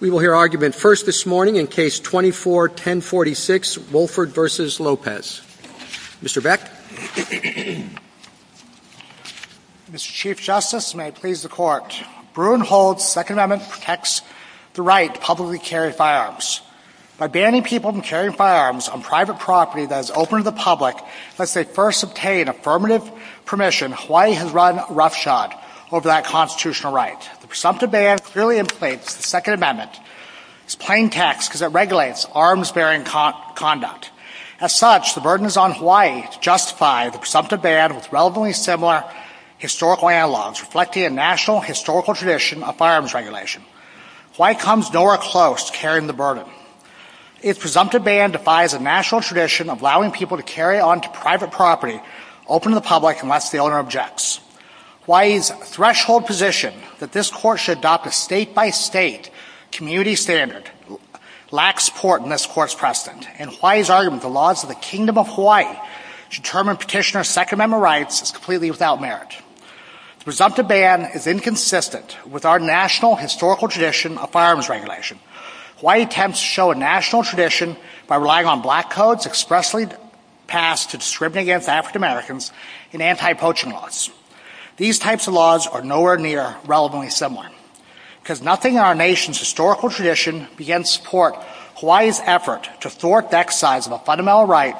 We will hear argument first this morning in Case 24-1046, Wolford v. Lopez. Mr. Beck? Mr. Chief Justice, and may it please the Court, Bruin holds the Second Amendment protects the right to publicly carry firearms. By banning people from carrying firearms on private property that is open to the public, unless they first obtain affirmative permission, Hawaii has run roughshod over that constitutional right. The presumptive ban clearly inflates the Second Amendment as plain text because it regulates arms-bearing conduct. As such, the burden is on Hawaii to justify the presumptive ban with relatively similar historical analogs, reflecting a national historical tradition of firearms regulation. Hawaii comes nowhere close to carrying the burden. Its presumptive ban defies a national tradition of allowing people to carry on to private property open to the public unless the owner objects. Hawaii is at a threshold position that this Court should adopt a state-by-state community standard. It lacks support in this Court's precedent. In Hawaii's argument, the laws of the Kingdom of Hawaii determine Petitioner's Second Amendment rights as completely without merit. The presumptive ban is inconsistent with our national historical tradition of firearms regulation. Hawaii attempts to show a national tradition by relying on black codes expressly passed to discriminate against African Americans in anti-poaching laws. These types of laws are nowhere near relevantly similar. Because nothing in our nation's historical tradition begins to support Hawaii's effort to thwart the exercise of a fundamental right,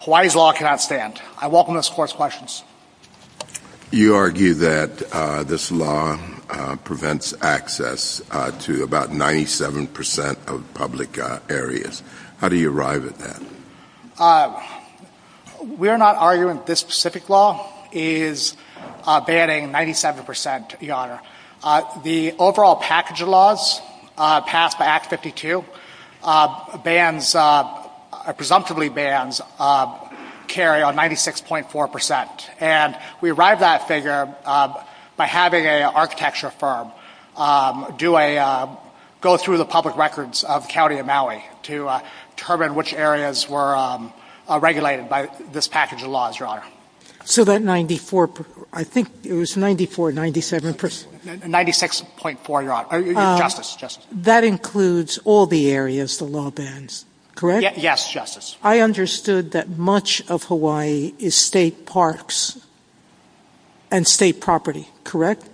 Hawaii's law cannot stand. I welcome this Court's questions. You argue that this law prevents access to about 97 percent of public areas. How do you arrive at that? We're not arguing that this specific law is banning 97 percent, Your Honor. The overall package of laws passed by Act 52 bans, presumptively bans, carry on 96.4 percent. And we arrive at that figure by having an architecture firm go through the public records of the County of Maui to determine which areas were regulated by this package of laws, Your Honor. So that 94, I think it was 94, 97 percent. 96.4, Your Honor. Justice, Justice. That includes all the areas the law bans, correct? Yes, Justice. I understood that much of Hawaii is state parks and state property, correct?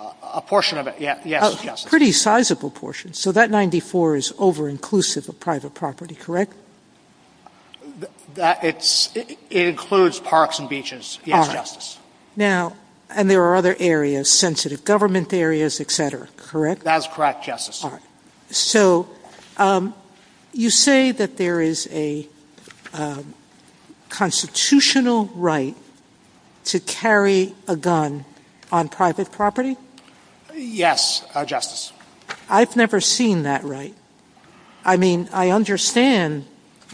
A portion of it, yes, Justice. A pretty sizable portion. So that 94 is over-inclusive of private property, correct? It includes parks and beaches, yes, Justice. Now, and there are other areas, sensitive government areas, et cetera, correct? That's correct, Justice. So you say that there is a constitutional right to carry a gun on private property? Yes, Justice. I've never seen that right. I mean, I understand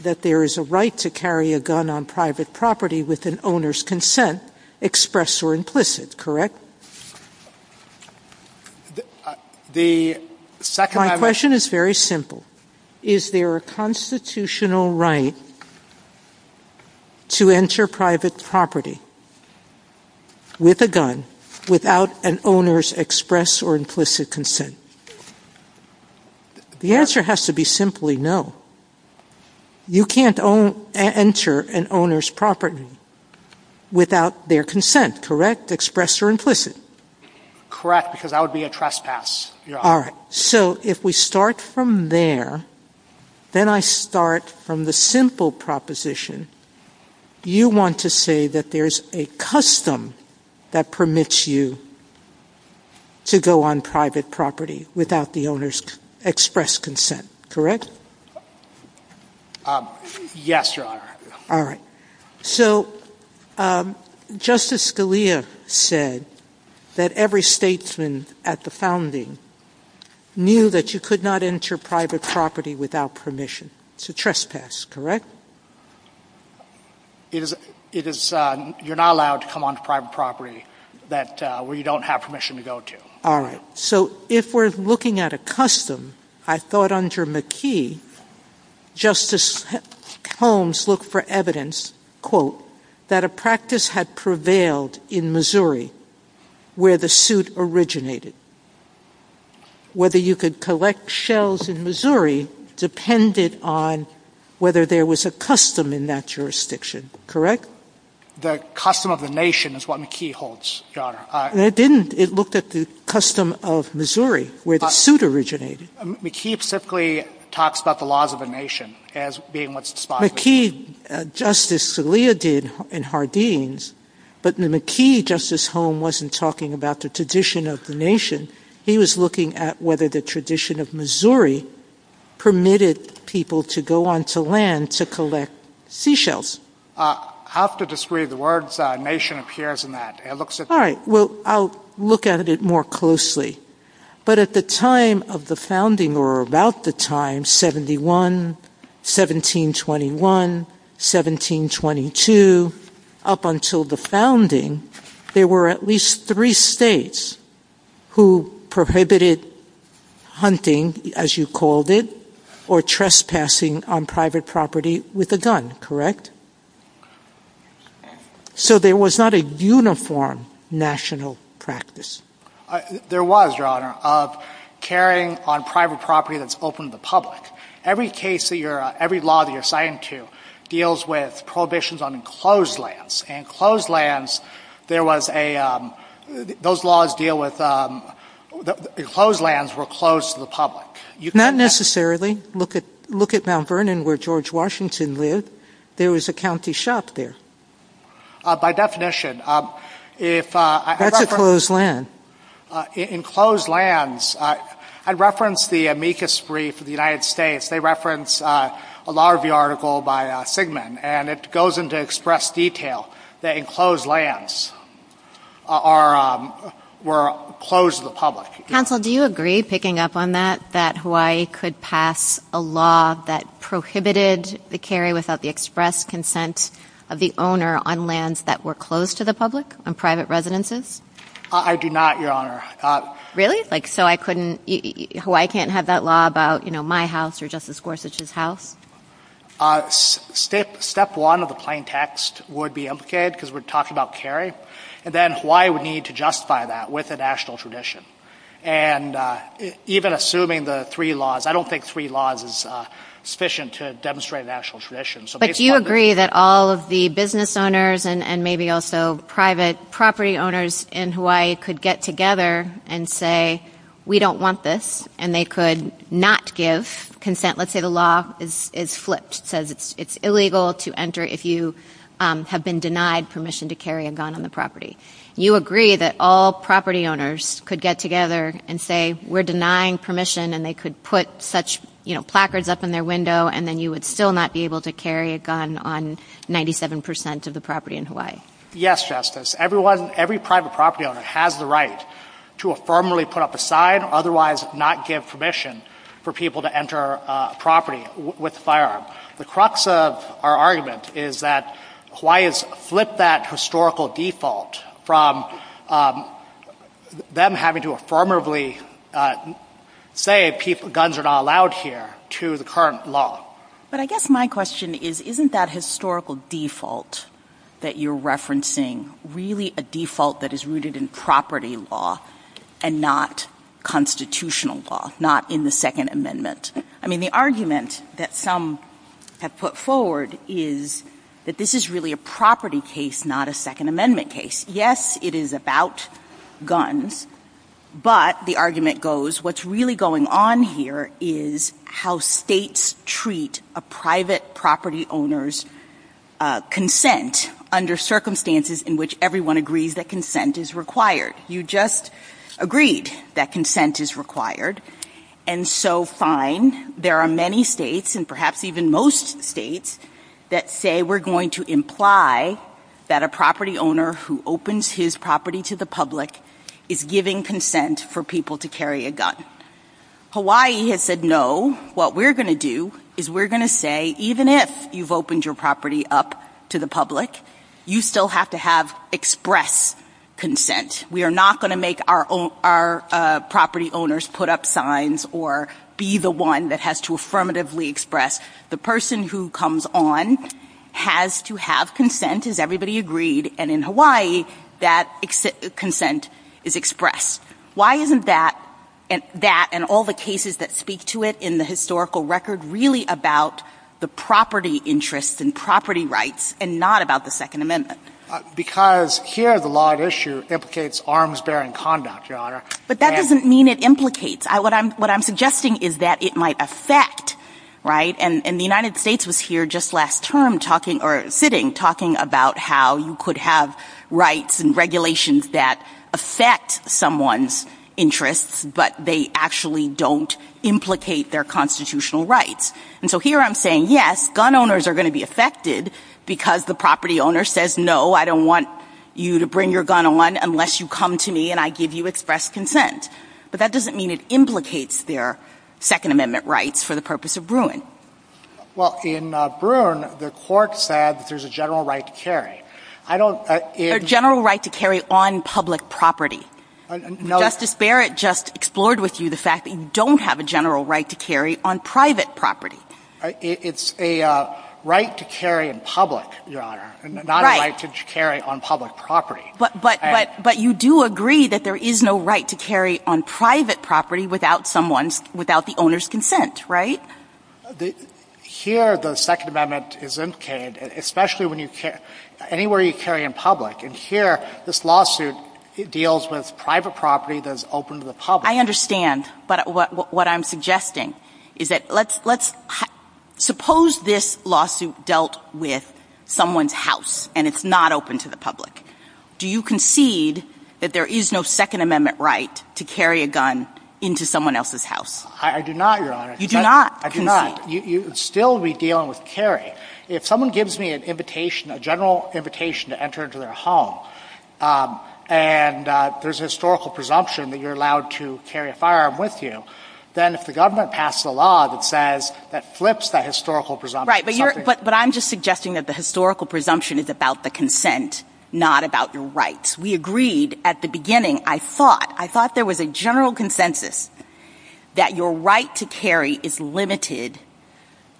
that there is a right to carry a gun on private property with an owner's consent, expressed or implicit, correct? My question is very simple. Is there a constitutional right to enter private property with a gun without an owner's expressed or implicit consent? The answer has to be simply no. You can't enter an owner's property without their consent, correct? Expressed or implicit? Correct, because that would be a trespass, Your Honor. All right. So if we start from there, then I start from the simple proposition. You want to say that there is a custom that permits you to go on private property without the owner's expressed consent, correct? Yes, Your Honor. All right. So Justice Scalia said that every statesman at the founding knew that you could not enter private property without permission. It's a trespass, correct? You're not allowed to come on private property where you don't have permission to go to. All right. So if we're looking at a custom, I thought under McKee, Justice Holmes looked for evidence, quote, that a practice had prevailed in Missouri where the suit originated. Whether you could collect shells in Missouri depended on whether there was a custom in that jurisdiction, correct? The custom of the nation is what McKee holds, Your Honor. It didn't. It looked at the custom of Missouri where the suit originated. McKee specifically talks about the laws of the nation as being what's the spot. McKee, Justice Scalia did in Hardeen's, but in McKee, Justice Holmes wasn't talking about the tradition of the nation. He was looking at whether the tradition of Missouri permitted people to go onto land to collect seashells. I'll have to disagree. The word nation appears in that. All right. Well, I'll look at it more closely. But at the time of the founding or about the time, 71, 1721, 1722, up until the founding, there were at least three states who prohibited hunting, as you called it, or trespassing on private property with a gun, correct? So there was not a uniform national practice. There was, Your Honor, of carrying on private property that's open to the public. Every case that you're, every law that you're citing to deals with prohibitions on enclosed lands. Enclosed lands, there was a, those laws deal with, enclosed lands were closed to the public. Not necessarily. Look at Mount Vernon where George Washington lived. There was a county shop there. By definition, if I- That's a closed land. Enclosed lands, I referenced the amicus brief of the United States. They reference a lot of the article by Sigmund, and it goes into express detail that enclosed lands are, were closed to the public. Counsel, do you agree, picking up on that, that Hawaii could pass a law that prohibited the carry without the express consent of the owner on lands that were closed to the public, on private residences? I do not, Your Honor. Really? Like, so I couldn't, Hawaii can't have that law about, you know, my house or Justice Gorsuch's house? Step one of the plain text would be implicated, because we're talking about carry, and then Hawaii would need to justify that with a national tradition. And even assuming the three laws, I don't think three laws is sufficient to demonstrate a national tradition. But you agree that all of the business owners and maybe also private property owners in Hawaii could get together and say, we don't want this, and they could not give consent. Let's say the law is flipped. It says it's illegal to enter if you have been denied permission to carry a gun on the property. You agree that all property owners could get together and say, we're denying permission, and they could put such, you know, placards up in their window, and then you would still not be able to carry a gun on 97 percent of the property in Hawaii? Yes, Justice. Everyone, every private property owner has the right to affirmably put up a sign, otherwise not give permission for people to enter a property with a firearm. The crux of our argument is that Hawaii has flipped that historical default from them having to affirmably say guns are not allowed here to the current law. But I guess my question is, isn't that historical default that you're referencing really a default that is rooted in property law and not constitutional law, not in the Second Amendment? I mean, the argument that some have put forward is that this is really a property case, not a Second Amendment case. Yes, it is about guns, but the argument goes, what's really going on here is how states treat a private property owner's consent under circumstances in which everyone agrees that consent is required. You just agreed that consent is required, and so fine, there are many states, and perhaps even most states, that say we're going to imply that a property owner who opens his property to the public is giving consent for people to carry a gun. Hawaii has said no. What we're going to do is we're going to say, even if you've opened your property up to the public, you still have to have express consent. We are not going to make our property owners put up signs or be the one that has to affirmatively express. The person who comes on has to have consent, has everybody agreed, and in Hawaii, that consent is expressed. Why isn't that, and all the cases that speak to it in the historical record, really about the property interest and property rights and not about the Second Amendment? Because here, the law at issue implicates arms-bearing conduct, Your Honor. But that doesn't mean it implicates. What I'm suggesting is that it might affect, right? And the United States was here just last term sitting, talking about how you could have rights and regulations that affect someone's interests, but they actually don't implicate their constitutional rights. And so here I'm saying, yes, gun owners are going to be affected because the property owner says, no, I don't want you to bring your gun on unless you come to me and I give you express consent. But that doesn't mean it implicates their Second Amendment rights for the purpose of Bruin. Well, in Bruin, the court said there's a general right to carry. A general right to carry on public property. Justice Barrett just explored with you the fact that you don't have a general right to carry on private property. It's a right to carry in public, Your Honor, not a right to carry on public property. But you do agree that there is no right to carry on private property without the owner's consent, right? Here the Second Amendment is implicated, especially anywhere you carry in public. And here this lawsuit deals with private property that is open to the public. I understand. But what I'm suggesting is that let's suppose this lawsuit dealt with someone's house and it's not open to the public. Do you concede that there is no Second Amendment right to carry a gun into someone else's house? I do not, Your Honor. You do not? I do not. You would still be dealing with carry. If someone gives me an invitation, a general invitation to enter into their home, and there's a historical presumption that you're allowed to carry a firearm with you, then if the government passes a law that says that flips that historical presumption. Right. But I'm just suggesting that the historical presumption is about the consent, not about your rights. We agreed at the beginning. I thought there was a general consensus that your right to carry is limited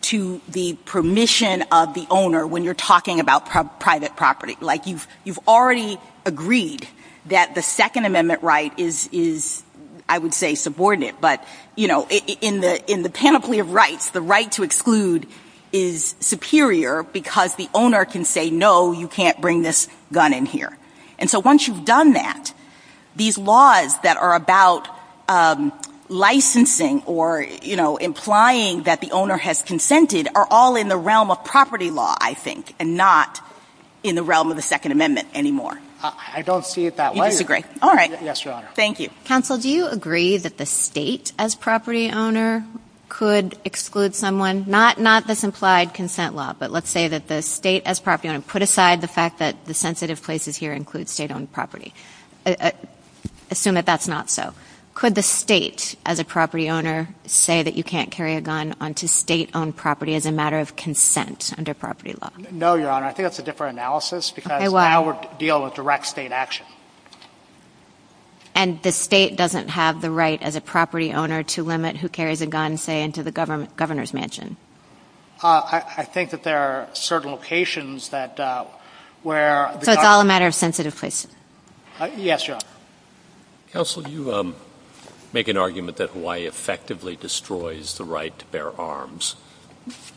to the permission of the owner when you're talking about private property. Like you've already agreed that the Second Amendment right is, I would say, subordinate. But, you know, in the panoply of rights, the right to exclude is superior because the owner can say, no, you can't bring this gun in here. And so once you've done that, these laws that are about licensing or, you know, implying that the owner has consented are all in the realm of property law, I think, and not in the realm of the Second Amendment anymore. I don't see it that way. You disagree? All right. Yes, Your Honor. Thank you. Counsel, do you agree that the state as property owner could exclude someone, not this implied consent law, but let's say that the state as property owner put aside the fact that the sensitive places here include state-owned property? Assume that that's not so. Could the state as a property owner say that you can't carry a gun onto state-owned property as a matter of consent under property law? No, Your Honor. I think that's a different analysis because now we're dealing with direct state action. And the state doesn't have the right as a property owner to limit who carries a gun, say, into the governor's mansion? I think that there are certain locations that where the governor... So it's all a matter of sensitive places? Yes, Your Honor. Counsel, you make an argument that Hawaii effectively destroys the right to bear arms.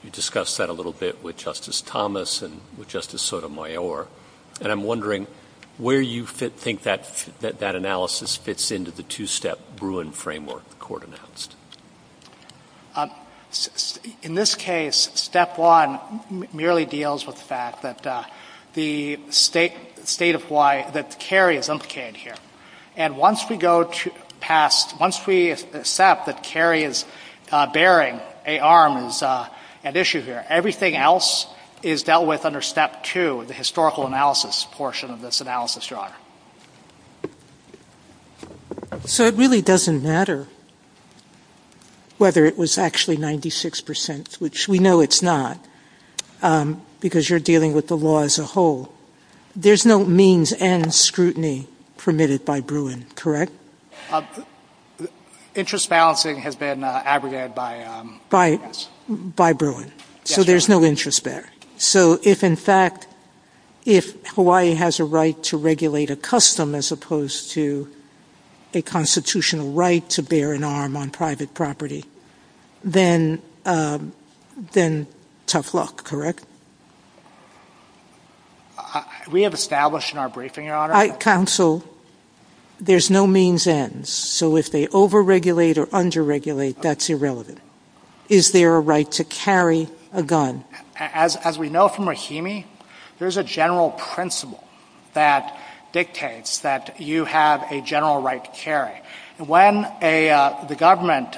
You discussed that a little bit with Justice Thomas and with Justice Sotomayor. And I'm wondering where you think that analysis fits into the two-step Bruin framework the court announced. In this case, step one merely deals with the fact that the state of Hawaii, that the carry is implicated here. And once we go past, once we accept that carry is bearing arms and issues here, everything else is dealt with under step two, the historical analysis portion of this analysis, Your Honor. So it really doesn't matter? Whether it was actually 96%, which we know it's not, because you're dealing with the law as a whole. There's no means and scrutiny permitted by Bruin, correct? Interest balancing has been abrogated by... By Bruin. So there's no interest there. So if, in fact, if Hawaii has a right to regulate a custom as opposed to a constitutional right to bear an arm on private property, then tough luck, correct? We have established in our briefing, Your Honor... Counsel, there's no means ends. So if they over-regulate or under-regulate, that's irrelevant. Is there a right to carry a gun? As we know from Rahimi, there's a general principle that dictates that you have a general right to carry. When the government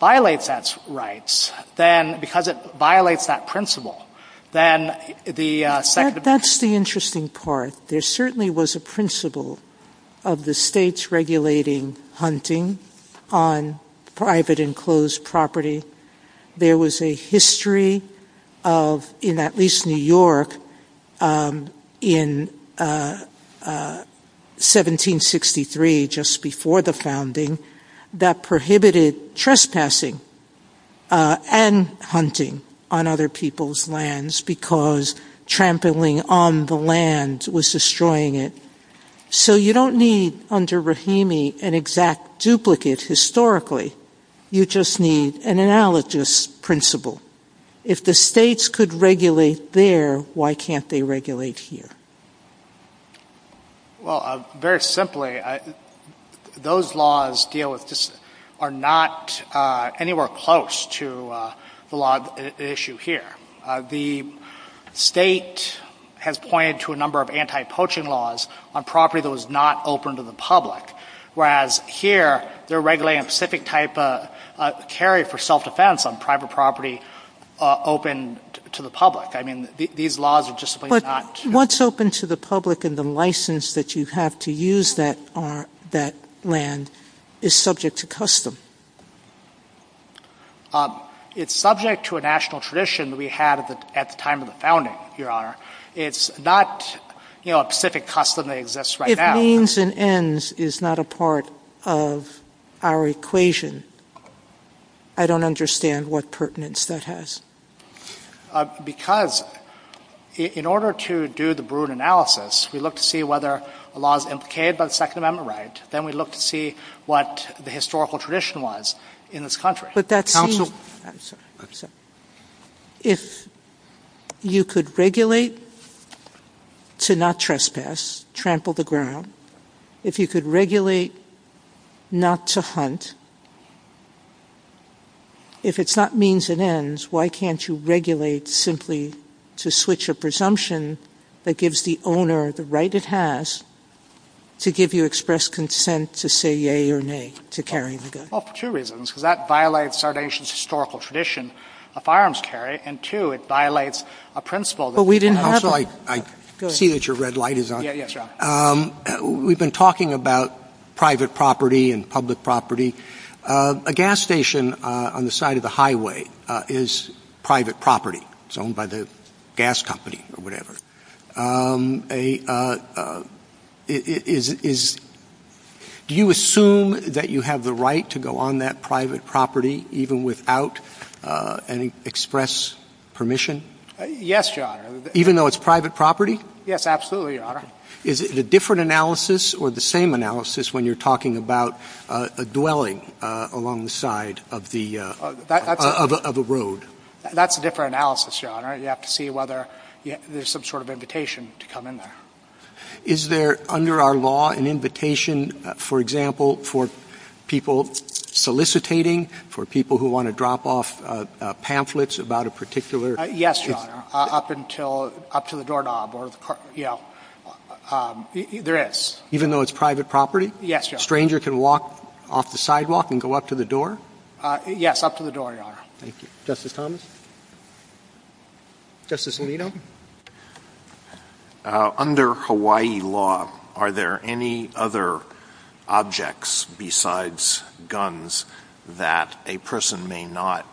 violates that right, then because it violates that principle, then the... That's the interesting part. There certainly was a principle of the states regulating hunting on private enclosed property. There was a history of, in at least New York, in 1763, just before the founding, that prohibited trespassing and hunting on other people's lands because trampling on the land was destroying it. So you don't need, under Rahimi, an exact duplicate historically. You just need an analogous principle. If the states could regulate there, why can't they regulate here? Well, very simply, those laws deal with... are not anywhere close to the law at issue here. The state has pointed to a number of anti-poaching laws on property that was not open to the public, whereas here, they're regulating a specific type of carry for self-defense on private property open to the public. I mean, these laws are just simply not... But what's open to the public in the license that you have to use that land is subject to custom. It's subject to a national tradition that we had at the time of the founding, Your Honor. It's not a specific custom that exists right now. The means and ends is not a part of our equation. I don't understand what pertinence that has. Because in order to do the Bruin analysis, we look to see whether a law is implicated by the Second Amendment right. Then we look to see what the historical tradition was in this country. But that seems... If you could regulate to not trespass, trample the ground, if you could regulate not to hunt, if it's not means and ends, why can't you regulate simply to switch a presumption that gives the owner the right it has to give you express consent to say yea or nay to carry the gun? Well, for two reasons. Because that violates our nation's historical tradition of firearms carry. And two, it violates a principle... But we didn't have... I see that your red light is on. Yes, Your Honor. We've been talking about private property and public property. A gas station on the side of the highway is private property. It's owned by the gas company or whatever. Do you assume that you have the right to go on that private property even without any express permission? Yes, Your Honor. Even though it's private property? Yes, absolutely, Your Honor. Is it a different analysis or the same analysis when you're talking about a dwelling along the side of a road? That's a different analysis, Your Honor. You have to see whether there's some sort of invitation to come in there. Is there, under our law, an invitation, for example, for people solicitating, for people who want to drop off pamphlets about a particular... Yes, Your Honor. Up to the doorknob or, you know, there is. Even though it's private property? Yes, Your Honor. A stranger can walk off the sidewalk and go up to the door? Yes, up to the door, Your Honor. Thank you. Justice Thomas? Justice Alito? Under Hawaii law, are there any other objects besides guns that a person may not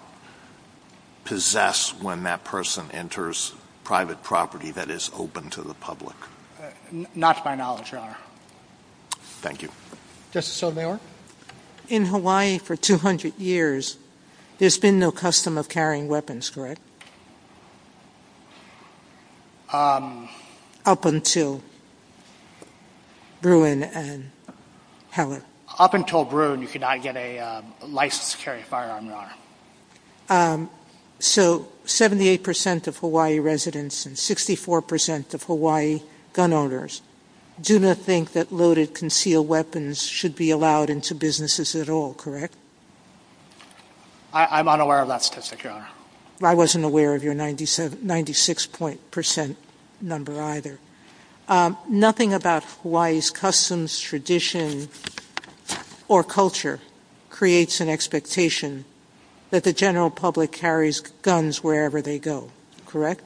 possess when that person enters private property that is open to the public? Not to my knowledge, Your Honor. Thank you. Justice Sotomayor? In Hawaii, for 200 years, there's been no custom of carrying weapons, correct? Up until Bruin and Heller. Up until Bruin, you could not get a license to carry a firearm, Your Honor. So, 78% of Hawaii residents and 64% of Hawaii gun owners do not think that loaded, concealed weapons should be allowed into businesses at all, correct? I'm unaware of that, Justice Sotomayor. I wasn't aware of your 96% number either. Nothing about Hawaii's customs, tradition, or culture creates an expectation that the general public carries guns wherever they go, correct?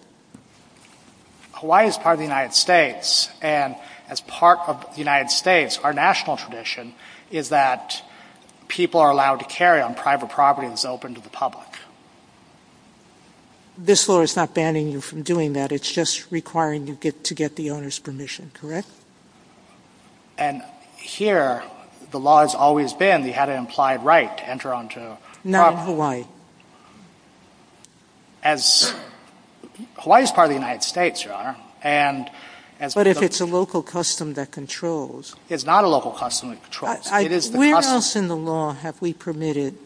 Hawaii is part of the United States, and as part of the United States, our national tradition is that people are allowed to carry on private property that's open to the public. This law is not banning you from doing that. It's just requiring you to get the owner's permission, correct? And here, the law has always been that you have an implied right to enter onto property. Not in Hawaii. Hawaii is part of the United States, Your Honor. But if it's a local custom that controls. It's not a local custom that controls. Where else in the law have we permitted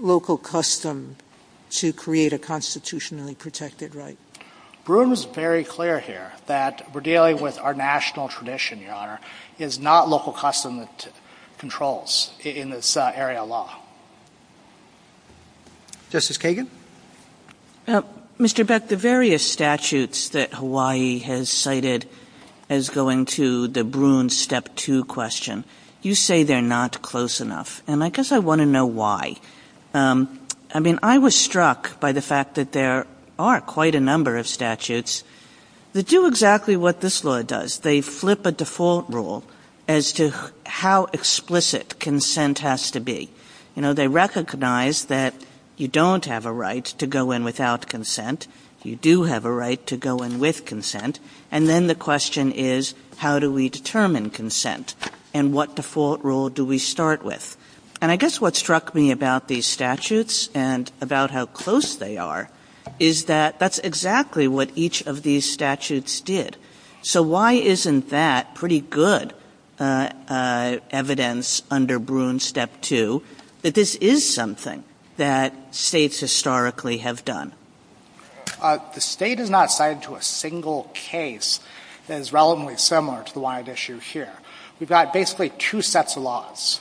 local custom to create a constitutionally protected right? Broome is very clear here that we're dealing with our national tradition, Your Honor. It's not local custom that controls in this area of law. Justice Kagan? Mr. Beck, the various statutes that Hawaii has cited as going to the Broome Step 2 question, you say they're not close enough. And I guess I want to know why. I mean, I was struck by the fact that there are quite a number of statutes that do exactly what this law does. They flip a default rule as to how explicit consent has to be. You know, they recognize that you don't have a right to go in without consent. You do have a right to go in with consent. And then the question is, how do we determine consent? And what default rule do we start with? And I guess what struck me about these statutes and about how close they are, is that that's exactly what each of these statutes did. So why isn't that pretty good evidence under Broome Step 2 that this is something that states historically have done? The state has not cited to a single case that is relatively similar to the one I've issued here. We've got basically two sets of laws.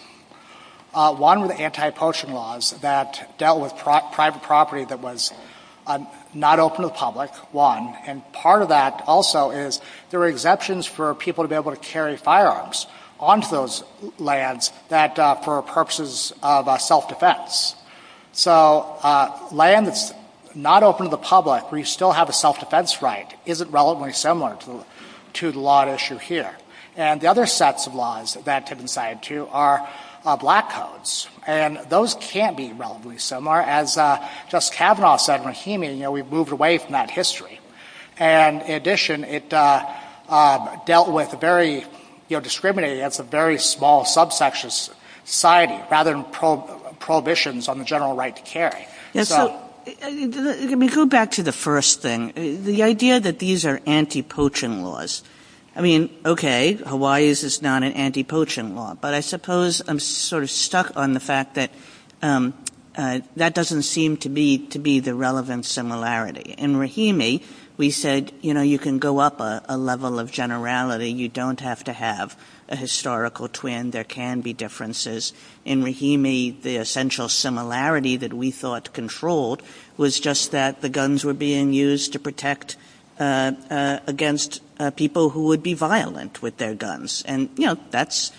One with anti-poaching laws that dealt with private property that was not open to the public, one. And part of that also is there are exceptions for people to be able to carry firearms onto those lands for purposes of self-defense. So land that's not open to the public where you still have a self-defense right isn't relatively similar to the law at issue here. And the other sets of laws that that's been cited to are black codes. And those can be relatively similar. As Justice Kavanaugh said in Rahimi, you know, we've moved away from that history. And in addition, it dealt with very, you know, discriminating against a very small subsection of society rather than prohibitions on the general right to carry. Let me go back to the first thing. The idea that these are anti-poaching laws. I mean, okay, Hawaii's is not an anti-poaching law. But I suppose I'm sort of stuck on the fact that that doesn't seem to be the relevant similarity. In Rahimi, we said, you know, you can go up a level of generality. You don't have to have a historical twin. There can be differences. In Rahimi, the essential similarity that we thought controlled was just that the guns were being used to protect against people who would be violent with their guns. And, you know, that's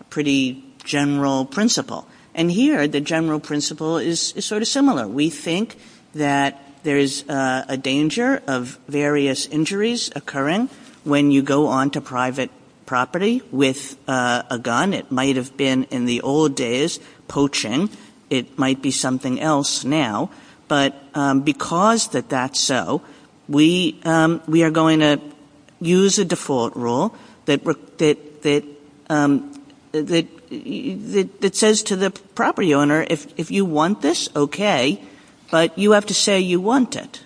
a pretty general principle. And here, the general principle is sort of similar. We think that there is a danger of various injuries occurring when you go onto private property with a gun. It might have been in the old days poaching. It might be something else now. But because that's so, we are going to use a default rule that says to the property owner, if you want this, okay. But you have to say you want it.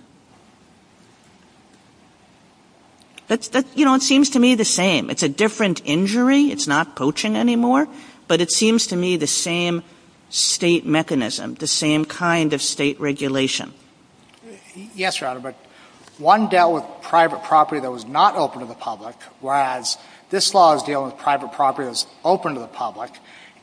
You know, it seems to me the same. It's a different injury. It's not poaching anymore. But it seems to me the same state mechanism, the same kind of state regulation. Yes, Your Honor. But one dealt with private property that was not open to the public, whereas this law is dealing with private property that is open to the public.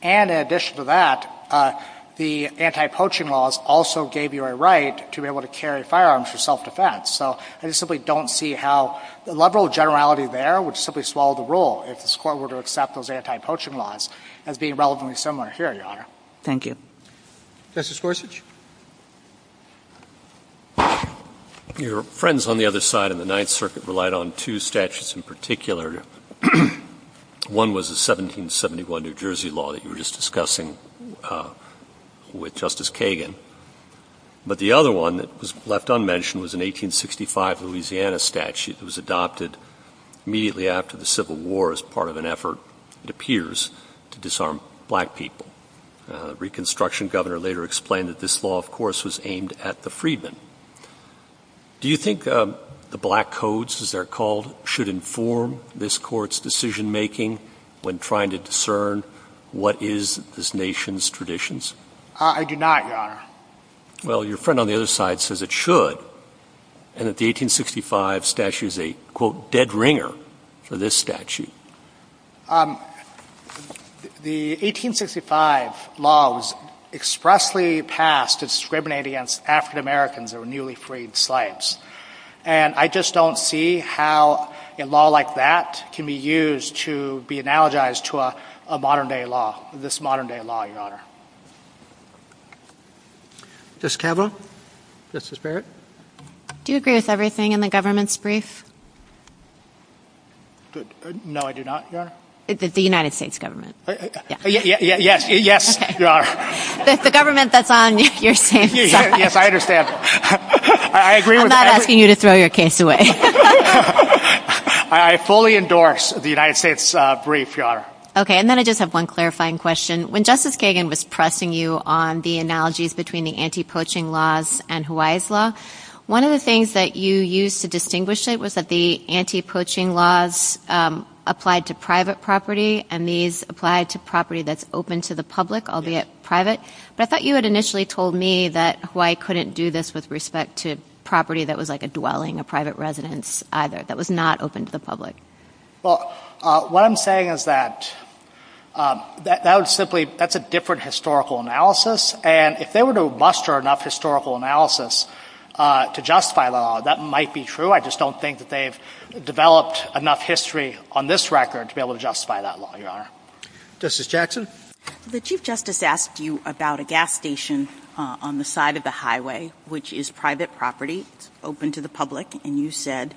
And in addition to that, the anti-poaching laws also gave you a right to be able to carry firearms for self-defense. So I simply don't see how the liberal generality there would simply swallow the role if this Court were to accept those anti-poaching laws as being relatively similar here, Your Honor. Thank you. Justice Gorsuch. Your friends on the other side of the Ninth Circuit relied on two statutes in particular. One was the 1771 New Jersey law that you were just discussing with Justice Kagan. But the other one that was left unmentioned was an 1865 Louisiana statute that was adopted immediately after the Civil War as part of an effort, it appears, to disarm black people. Reconstruction governor later explained that this law, of course, was aimed at the freedmen. Do you think the black codes, as they're called, should inform this Court's decision-making when trying to discern what is this nation's traditions? I do not, Your Honor. Well, your friend on the other side says it should, and that the 1865 statute is a, quote, dead ringer for this statute. The 1865 law was expressly passed to discriminate against African Americans who were newly freed slaves. And I just don't see how a law like that can be used to be analogized to a modern-day law, this modern-day law, Your Honor. Justice Campbell, Justice Barrett. Do you agree with everything in the government's brief? No, I do not, Your Honor. The United States government. Yes, Your Honor. The government that's on your case. Yes, I understand. I'm not asking you to throw your case away. I fully endorse the United States brief, Your Honor. Okay, and then I just have one clarifying question. When Justice Kagan was pressing you on the analogies between the anti-poaching laws and Hawaii's law, one of the things that you used to distinguish it was that the anti-poaching laws applied to private property, and these applied to property that's open to the public, albeit private. But I thought you had initially told me that Hawaii couldn't do this with respect to property that was like a dwelling, a private residence, either, that was not open to the public. Well, what I'm saying is that that's a different historical analysis, and if they were to muster enough historical analysis to justify the law, that might be true. I just don't think that they've developed enough history on this record to be able to justify that law, Your Honor. Justice Jackson. The Chief Justice asked you about a gas station on the side of the highway, which is private property, open to the public, and you said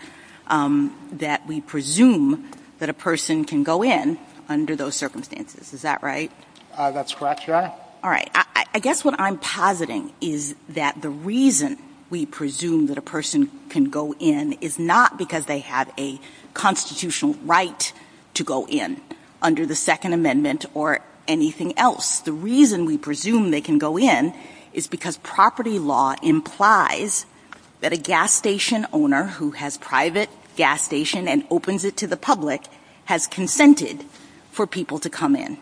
that we presume that a person can go in under those circumstances. Is that right? That's correct, Your Honor. All right. I guess what I'm positing is that the reason we presume that a person can go in is not because they have a constitutional right to go in under the Second Amendment or anything else. The reason we presume they can go in is because property law implies that a gas station owner who has private gas station and opens it to the public has consented for people to come in.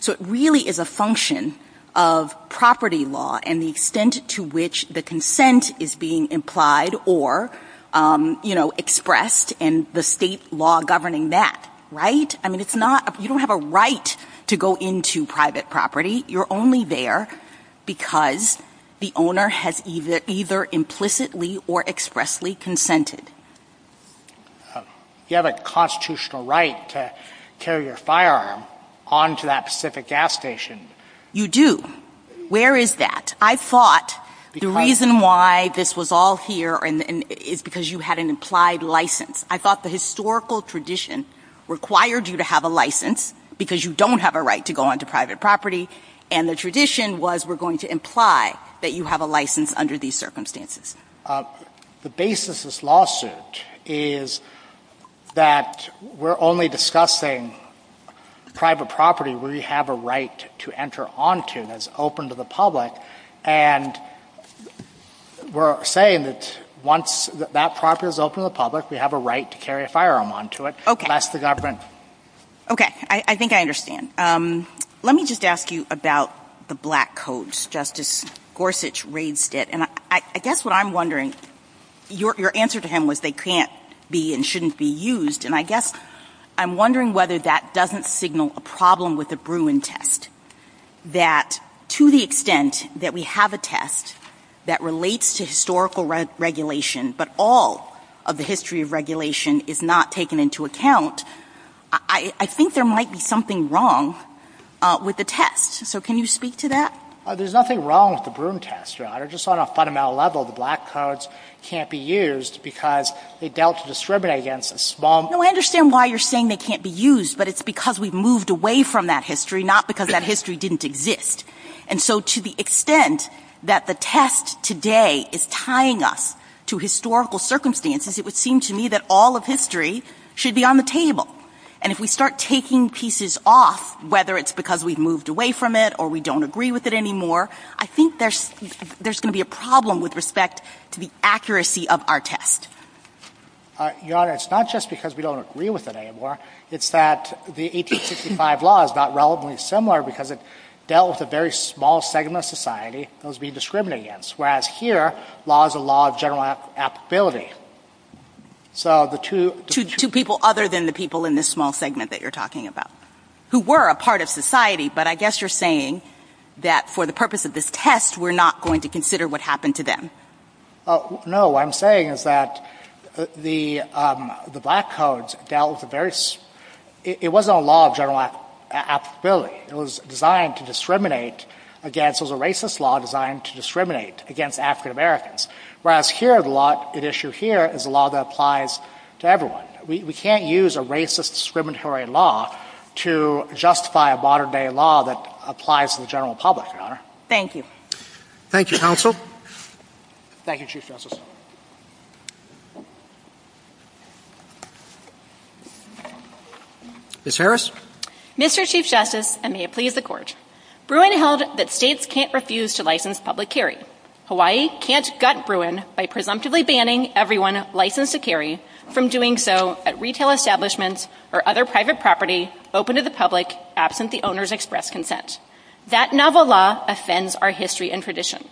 So it really is a function of property law and the extent to which the consent is being implied or, you know, expressed, and the state law governing that. Right? I mean, you don't have a right to go into private property. You're only there because the owner has either implicitly or expressly consented. You have a constitutional right to carry your firearm onto that specific gas station. You do. Where is that? I thought the reason why this was all here is because you had an implied license. I thought the historical tradition required you to have a license because you don't have a right to go into private property, and the tradition was we're going to imply that you have a license under these circumstances. The basis of this lawsuit is that we're only discussing private property where you have a right to enter onto and is open to the public, and we're saying that once that property is open to the public, we have a right to carry a firearm onto it. Okay. That's the government. Okay. I think I understand. Let me just ask you about the black codes. Justice Gorsuch raised it, and I guess what I'm wondering, your answer to him was they can't be and shouldn't be used, and I guess I'm wondering whether that doesn't signal a problem with the Bruin test, that to the extent that we have a test that relates to historical regulation, but all of the history of regulation is not taken into account, I think there might be something wrong with the test. So can you speak to that? There's nothing wrong with the Bruin test, Your Honor. They're just on a fundamental level. The black codes can't be used because they doubt to discriminate against a small... No, I understand why you're saying they can't be used, but it's because we've moved away from that history, not because that history didn't exist. And so to the extent that the test today is tying us to historical circumstances, it would seem to me that all of history should be on the table. And if we start taking pieces off, whether it's because we've moved away from it or we don't agree with it anymore, I think there's going to be a problem with respect to the accuracy of our test. Your Honor, it's not just because we don't agree with it anymore, it's that the 1865 law is not relevantly similar because it dealt with a very small segment of society that was being discriminated against, whereas here, law is a law of general applicability. So the two... Two people other than the people in this small segment that you're talking about, who were a part of society, but I guess you're saying that for the purpose of this test, we're not going to consider what happened to them. No, what I'm saying is that the Black Codes dealt with a very... It wasn't a law of general applicability. It was designed to discriminate against... It was a racist law designed to discriminate against African Americans, whereas here, the law at issue here is a law that applies to everyone. We can't use a racist, discriminatory law to justify a modern-day law that applies to the general public, Your Honor. Thank you. Thank you, Counsel. Thank you, Chief Justice. Ms. Harris? Mr. Chief Justice, and may it please the Court, Bruin held that states can't refuse to license public carry. Hawaii can't gut Bruin by presumptively banning everyone licensed to carry from doing so at retail establishments or other private property open to the public, absent the owner's express consent. That novel law offends our history and tradition.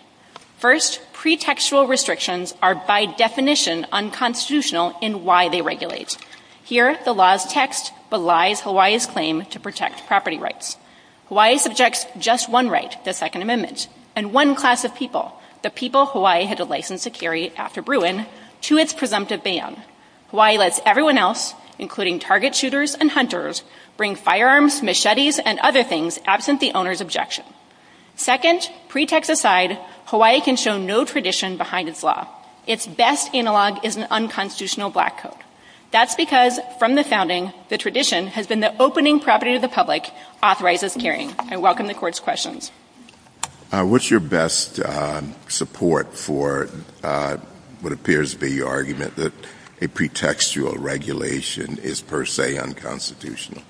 First, pretextual restrictions are by definition unconstitutional in why they regulate. Here, the law's text belies Hawaii's claim to protect property rights. Hawaii subjects just one right, the Second Amendment, and one class of people, the people Hawaii has a license to carry after Bruin, to its presumptive ban. Hawaii lets everyone else, including target shooters and hunters, bring firearms, machetes, and other things absent the owner's objection. Second, pretext aside, Hawaii can show no tradition behind its law. Its best analog is an unconstitutional black coat. That's because from the founding, the tradition has been that opening property to the public authorizes carrying. I welcome the Court's questions. What's your best support for what appears to be your argument that a pretextual regulation is per se unconstitutional?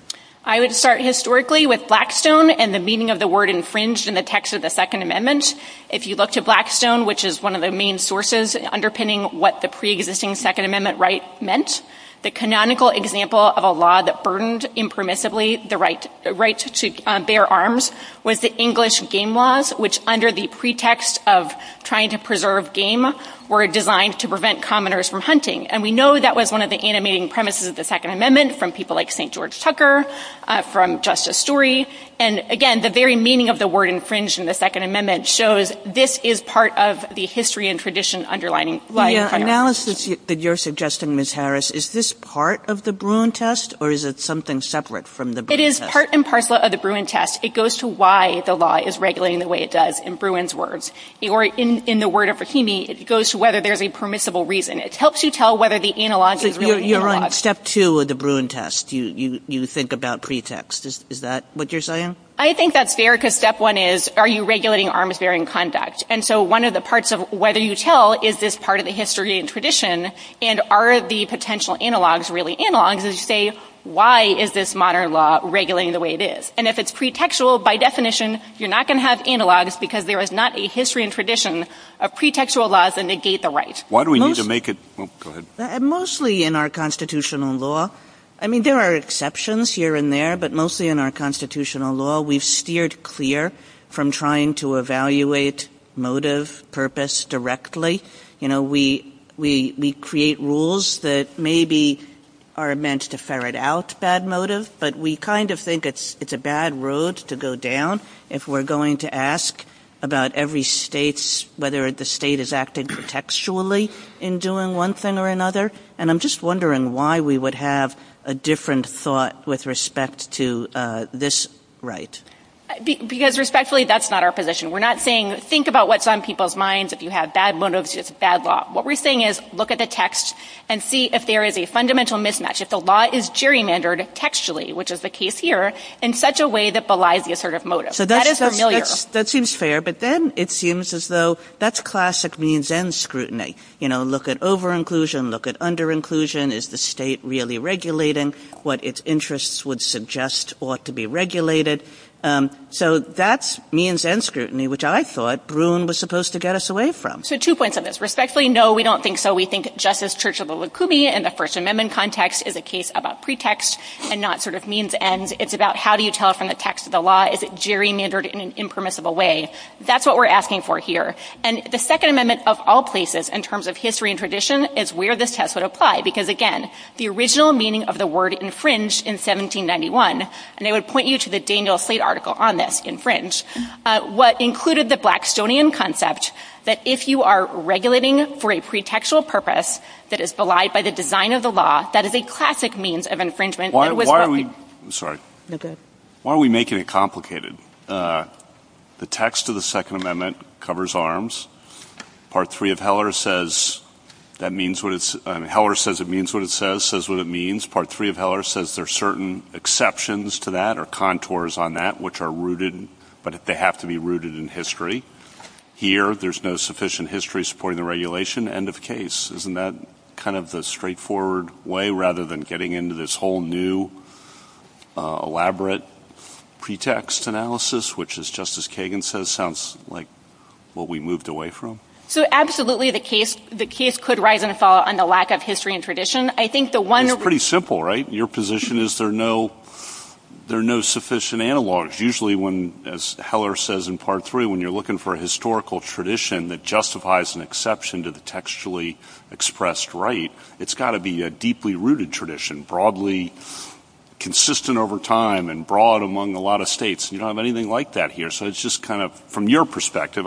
I would start historically with Blackstone and the meaning of the word infringed in the text of the Second Amendment. If you look to Blackstone, which is one of the main sources underpinning what the preexisting Second Amendment right meant, the canonical example of a law that burdened impermissibly the right to bear arms was the English game laws, which under the pretext of trying to preserve game were designed to prevent commoners from hunting. And we know that was one of the animating premises of the Second Amendment from people like St. George Tucker, from Justice Story. And again, the very meaning of the word infringed in the Second Amendment shows this is part of the history and tradition underlining life. The analysis that you're suggesting, Ms. Harris, is this part of the Bruin test, or is it something separate from the Bruin test? It is part and parcel of the Bruin test. It goes to why the law is regulating the way it does in Bruin's words. In the word of Rahimi, it goes to whether there's a permissible reason. It helps you tell whether the analog is really analog. You're on step two of the Bruin test. You think about pretext. Is that what you're saying? I think that's fair, because step one is, are you regulating arms-bearing conduct? And so one of the parts of whether you tell is this part of the history and tradition, and are the potential analogs really analogs, is to say, why is this modern law regulating the way it is? And if it's pretextual, by definition, you're not going to have analogs, because there is not a history and tradition of pretextual laws that negate the right. Mostly in our constitutional law. I mean, there are exceptions here and there, but mostly in our constitutional law, we've steered clear from trying to evaluate motive, purpose directly. You know, we create rules that maybe are meant to ferret out bad motive, but we kind of think it's a bad road to go down if we're going to ask about every state, whether the state is acting textually in doing one thing or another. And I'm just wondering why we would have a different thought with respect to this right. Because respectfully, that's not our position. We're not saying, think about what's on people's minds. If you have bad motives, it's bad law. What we're saying is, look at the text and see if there is a fundamental mismatch. If the law is gerrymandered textually, which is the case here, in such a way that belies the assertive motive. That is familiar. That seems fair. But then it seems as though that's classic means-end scrutiny. You know, look at over-inclusion, look at under-inclusion. Is the state really regulating what its interests would suggest ought to be regulated? So that's means-end scrutiny, which I thought Bruhn was supposed to get us away from. So two points on this. Respectfully, no, we don't think so. We think, just as Churchill the Lukumi in the First Amendment context, is a case about pretext and not sort of means-end. It's about how do you tell from the text of the law? Is it gerrymandered in an impermissible way? That's what we're asking for here. And the Second Amendment of all places, in terms of history and tradition, is where this test would apply. Because, again, the original meaning of the word infringe in 1791, and I would point you to the Daniel Slate article on this, infringe, what included the Blackstonian concept that if you are regulating for a pretextual purpose that is belied by the design of the law, that is a classic means of infringement. Why are we making it complicated? The text of the Second Amendment covers arms. Part 3 of Heller says it means what it says, says what it means. Part 3 of Heller says there are certain exceptions to that or contours on that which are rooted, but they have to be rooted in history. Here, there's no sufficient history supporting the regulation. End of case. Isn't that kind of the straightforward way, rather than getting into this whole new, elaborate pretext analysis, which, as Justice Kagan says, sounds like what we moved away from? So, absolutely, the case could rise and fall on the lack of history and tradition. I think the one that we're looking for is that there are no sufficient analogs. Usually, as Heller says in Part 3, when you're looking for a historical tradition that justifies an exception to the textually expressed right, it's got to be a deeply rooted tradition, broadly consistent over time, and broad among a lot of states. You don't have anything like that here. So it's just kind of, from your perspective,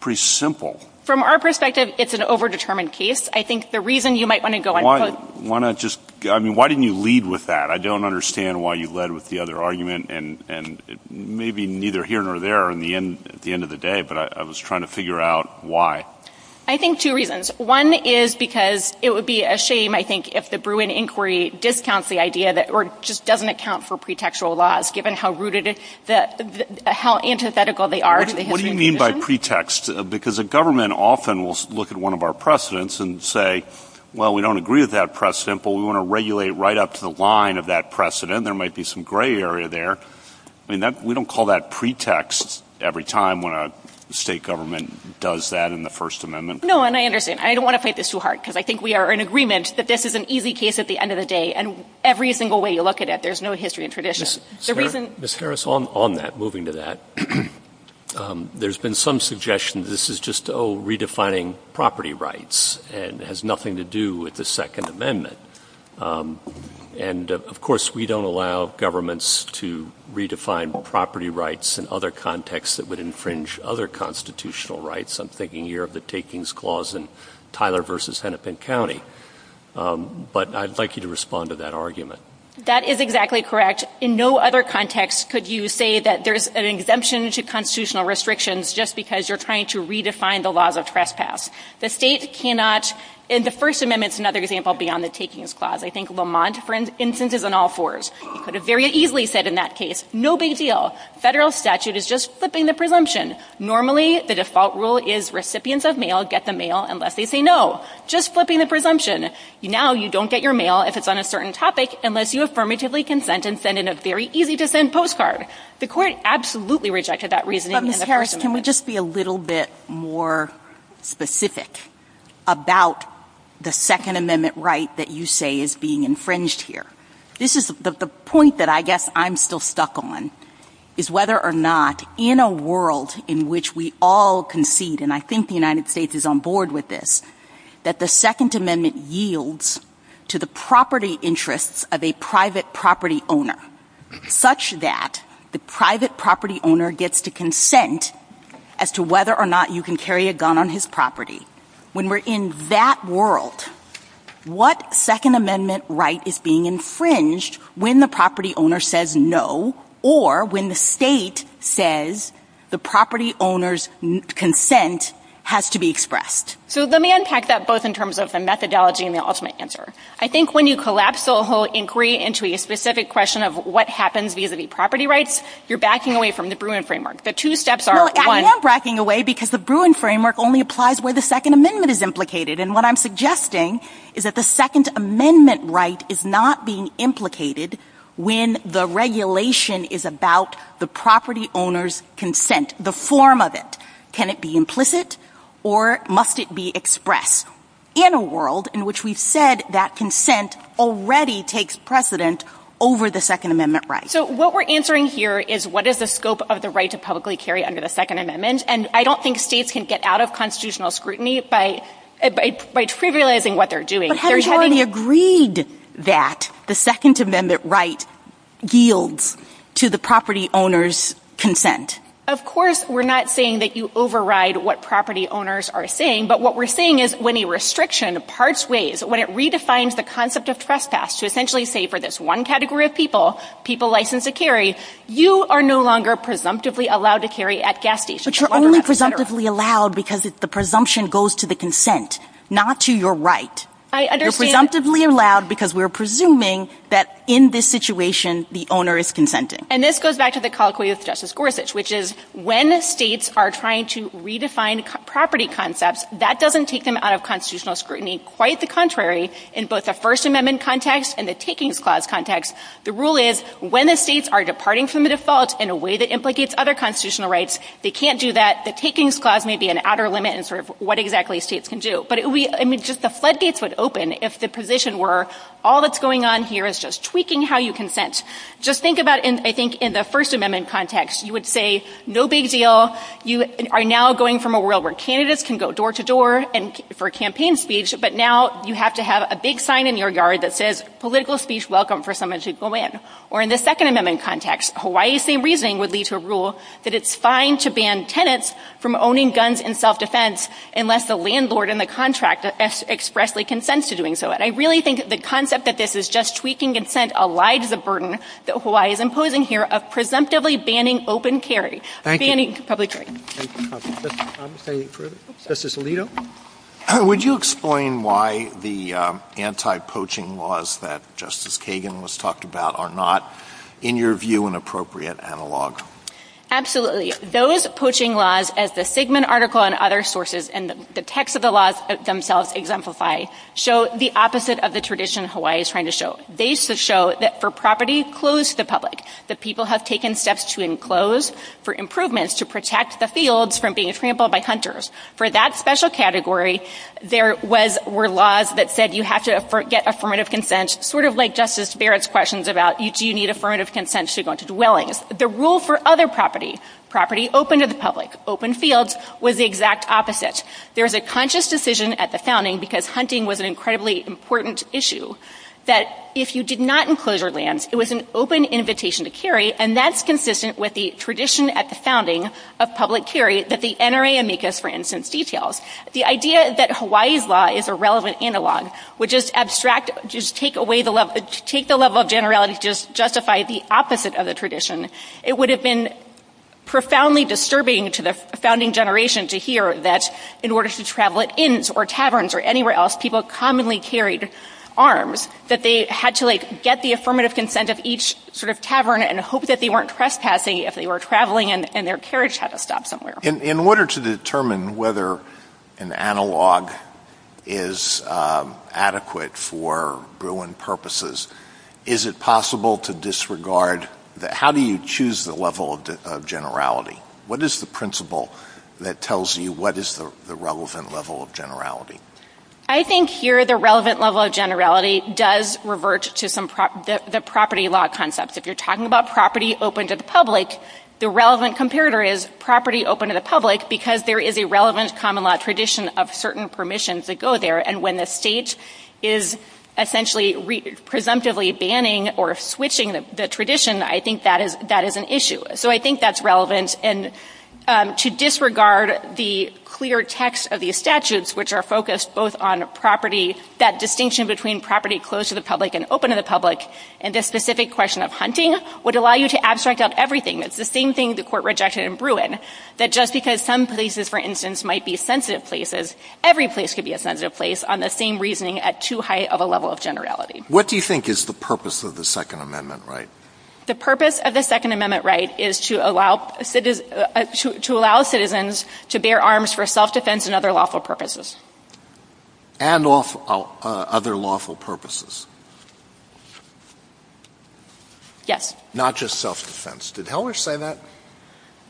pretty simple. From our perspective, it's an over-determined case. I think the reason you might want to go on. Why didn't you lead with that? I don't understand why you led with the other argument, and maybe neither here nor there at the end of the day, but I was trying to figure out why. I think two reasons. One is because it would be a shame, I think, if the Bruin Inquiry discounts the idea that it just doesn't account for pretextual laws, given how antithetical they are to the history. What do you mean by pretext? Because a government often will look at one of our precedents and say, well, we don't agree with that precedent, but we want to regulate right up to the line of that precedent. There might be some gray area there. We don't call that pretext every time when a state government does that in the First Amendment. No, and I understand. I don't want to fight this too hard because I think we are in agreement that this is an easy case at the end of the day, and every single way you look at it, there's no history and tradition. Ms. Ferris, on that, moving to that, there's been some suggestion that this is just redefining property rights and has nothing to do with the Second Amendment. And, of course, we don't allow governments to redefine property rights in other contexts that would infringe other constitutional rights. I'm thinking here of the takings clause in Tyler v. Hennepin County. But I'd like you to respond to that argument. That is exactly correct. In no other context could you say that there's an exemption to constitutional restrictions just because you're trying to redefine the laws of trespass. In the First Amendment, it's another example beyond the takings clause. I think Lamont, for instance, is on all fours. He could have very easily said in that case, no big deal. Federal statute is just flipping the presumption. Normally, the default rule is recipients of mail get the mail unless they say no. Just flipping the presumption. Now you don't get your mail if it's on a certain topic unless you affirmatively consent and send in a very easy-to-send postcard. The court absolutely rejected that reasoning. Governor Harris, can we just be a little bit more specific about the Second Amendment right that you say is being infringed here? The point that I guess I'm still stuck on is whether or not in a world in which we all concede, and I think the United States is on board with this, that the Second Amendment yields to the property interests of a private property owner such that the private property owner gets to consent as to whether or not you can carry a gun on his property. When we're in that world, what Second Amendment right is being infringed when the property owner says no or when the state says the property owner's consent has to be expressed? Let me unpack that both in terms of the methodology and the ultimate answer. I think when you collapse the whole inquiry into a specific question of what happens vis-a-vis property rights, you're backing away from the Bruin Framework. The two steps are one— Well, I am backing away because the Bruin Framework only applies where the Second Amendment is implicated, and what I'm suggesting is that the Second Amendment right is not being implicated when the regulation is about the property owner's consent, the form of it. Can it be implicit, or must it be expressed, in a world in which we've said that consent already takes precedent over the Second Amendment right? So what we're answering here is what is the scope of the right to publicly carry under the Second Amendment, and I don't think states can get out of constitutional scrutiny by trivializing what they're doing. But haven't you already agreed that the Second Amendment right yields to the property owner's consent? Of course, we're not saying that you override what property owners are saying, but what we're saying is when a restriction parts ways, when it redefines the concept of trespass, to essentially say for this one category of people, people licensed to carry, you are no longer presumptively allowed to carry at gas stations. But you're only presumptively allowed because the presumption goes to the consent, not to your right. You're presumptively allowed because we're presuming that in this situation, the owner is consenting. And this goes back to the colloquy of Justice Gorsuch, which is when states are trying to redefine property concepts, that doesn't take them out of constitutional scrutiny. Quite the contrary, in both the First Amendment context and the Takings Clause context, the rule is when the states are departing from the default in a way that implicates other constitutional rights, they can't do that. The Takings Clause may be an outer limit in sort of what exactly states can do. But just the floodgates would open if the position were all that's going on here is just tweaking how you consent. Just think about, I think, in the First Amendment context, you would say, no big deal. You are now going from a world where candidates can go door to door for campaign speech, but now you have to have a big sign in your yard that says, political speech welcome for someone to go in. Or in the Second Amendment context, Hawaii's same reasoning would be to rule that it's fine to ban tenants from owning guns in self-defense unless the landlord in the contract expressly consents to doing so. But I really think the concept that this is just tweaking consent allides the burden that Hawaii is imposing here of presumptively banning open carry, banning public carry. Thank you. Justice Alito? Would you explain why the anti-poaching laws that Justice Kagan was talking about are not, in your view, an appropriate analog? Absolutely. Those poaching laws, as the Sigmund article and other sources and the text of the laws themselves exemplify, show the opposite of the tradition Hawaii is trying to show. They show that for property closed to the public, the people have taken steps to enclose for improvements to protect the fields from being trampled by hunters. For that special category, there were laws that said you have to get affirmative consent, sort of like Justice Barrett's questions about do you need affirmative consent to go into the wellings. The rule for other property, property open to the public, open fields, was the exact opposite. There's a conscious decision at the founding, because hunting was an incredibly important issue, that if you did not enclose your lands, it was an open invitation to carry, and that's consistent with the tradition at the founding of public carry that the NRA amicus, for instance, details. The idea that Hawaii's law is a relevant analog would just take the level of generality to justify the opposite of the tradition. It would have been profoundly disturbing to the founding generation to hear that in order to travel at inns or taverns or anywhere else, people commonly carried arms, that they had to get the affirmative consent of each sort of tavern and hope that they weren't trespassing if they were traveling and their carriage had to stop somewhere. In order to determine whether an analog is adequate for Bruin purposes, is it possible to disregard that? How do you choose the level of generality? What is the principle that tells you what is the relevant level of generality? I think here the relevant level of generality does revert to the property law concepts. If you're talking about property open to the public, the relevant comparator is property open to the public, because there is a relevant common law tradition of certain permissions that go there, and when the state is essentially presumptively banning or switching the tradition, I think that is an issue. So I think that's relevant. To disregard the clear text of these statutes, which are focused both on property, that distinction between property closed to the public and open to the public, and the specific question of hunting would allow you to abstract out everything. It's the same thing the court rejected in Bruin, that just because some places, for instance, might be sensitive places, every place could be a sensitive place on the same reasoning at too high of a level of generality. What do you think is the purpose of the Second Amendment right? The purpose of the Second Amendment right is to allow citizens to bear arms for self-defense and other lawful purposes. And other lawful purposes. Yes. Not just self-defense. Did Heller say that?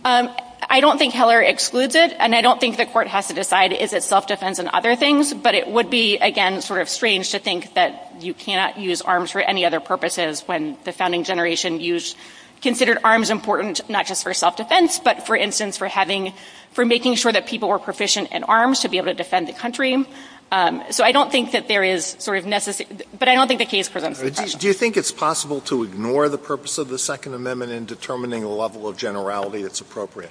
I don't think Heller excludes it, and I don't think the court has to decide is it self-defense and other things, but it would be, again, sort of strange to think that you can't use arms for any other purposes when the founding generation considered arms important not just for self-defense, but, for instance, for making sure that people were proficient in arms to be able to defend the country. So I don't think that there is sort of necessity, but I don't think the case for them. Do you think it's possible to ignore the purpose of the Second Amendment in determining a level of generality that's appropriate?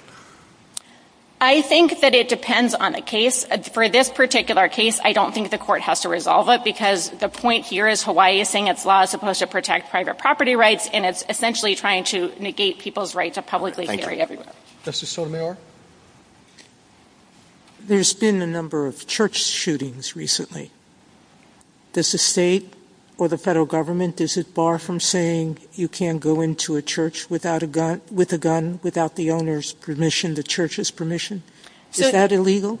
I think that it depends on a case. For this particular case, I don't think the court has to resolve it because the point here is Hawaii is saying its law is supposed to protect private property rights and it's essentially trying to negate people's right to publicly carry weapons. Justice Sotomayor? There's been a number of church shootings recently. Does the state or the federal government, is it far from saying you can't go into a church with a gun without the owner's permission, the church's permission? Is that illegal?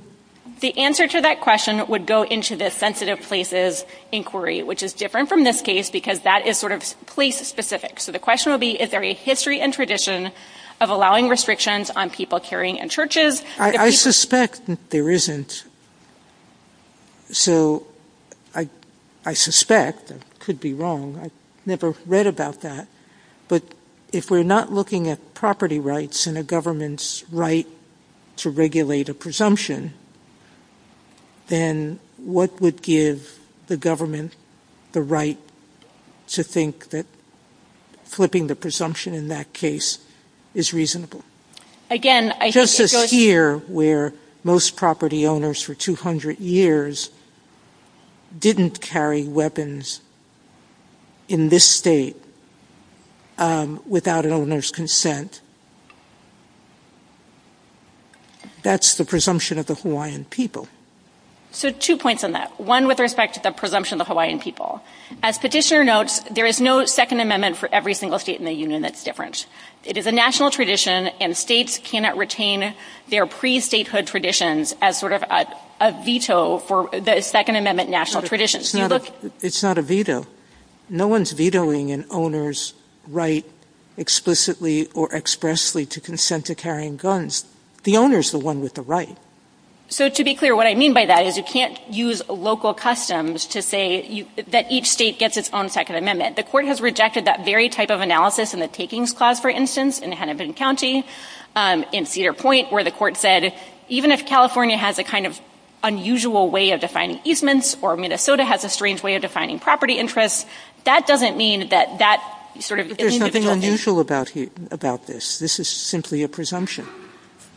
The answer to that question would go into the sensitive places inquiry, which is different from this case because that is sort of place-specific. So the question would be, is there a history and tradition of allowing restrictions on people carrying in churches? I suspect there isn't. So I suspect, I could be wrong, I've never read about that, but if we're not looking at property rights and a government's right to regulate a presumption, then what would give the government the right to think that flipping the presumption in that case is reasonable? Just as here, where most property owners for 200 years didn't carry weapons in this state without an owner's consent, that's the presumption of the Hawaiian people. So two points on that. One with respect to the presumption of the Hawaiian people. As the petitioner notes, there is no second amendment for every single state in the union that's different. It is a national tradition, and states cannot retain their pre-statehood traditions as sort of a veto for the second amendment national traditions. It's not a veto. No one's vetoing an owner's right explicitly or expressly to consent to carrying guns. The owner's the one with the right. So to be clear, what I mean by that is you can't use local customs to say that each state gets its own second amendment. The court has rejected that very type of analysis in the Takings Clause, for instance, in Hennepin County, in Cedar Point, where the court said even if California has a kind of unusual way of defining easements or Minnesota has a strange way of defining property interests, that doesn't mean that that sort of... There's nothing unusual about this. This is simply a presumption.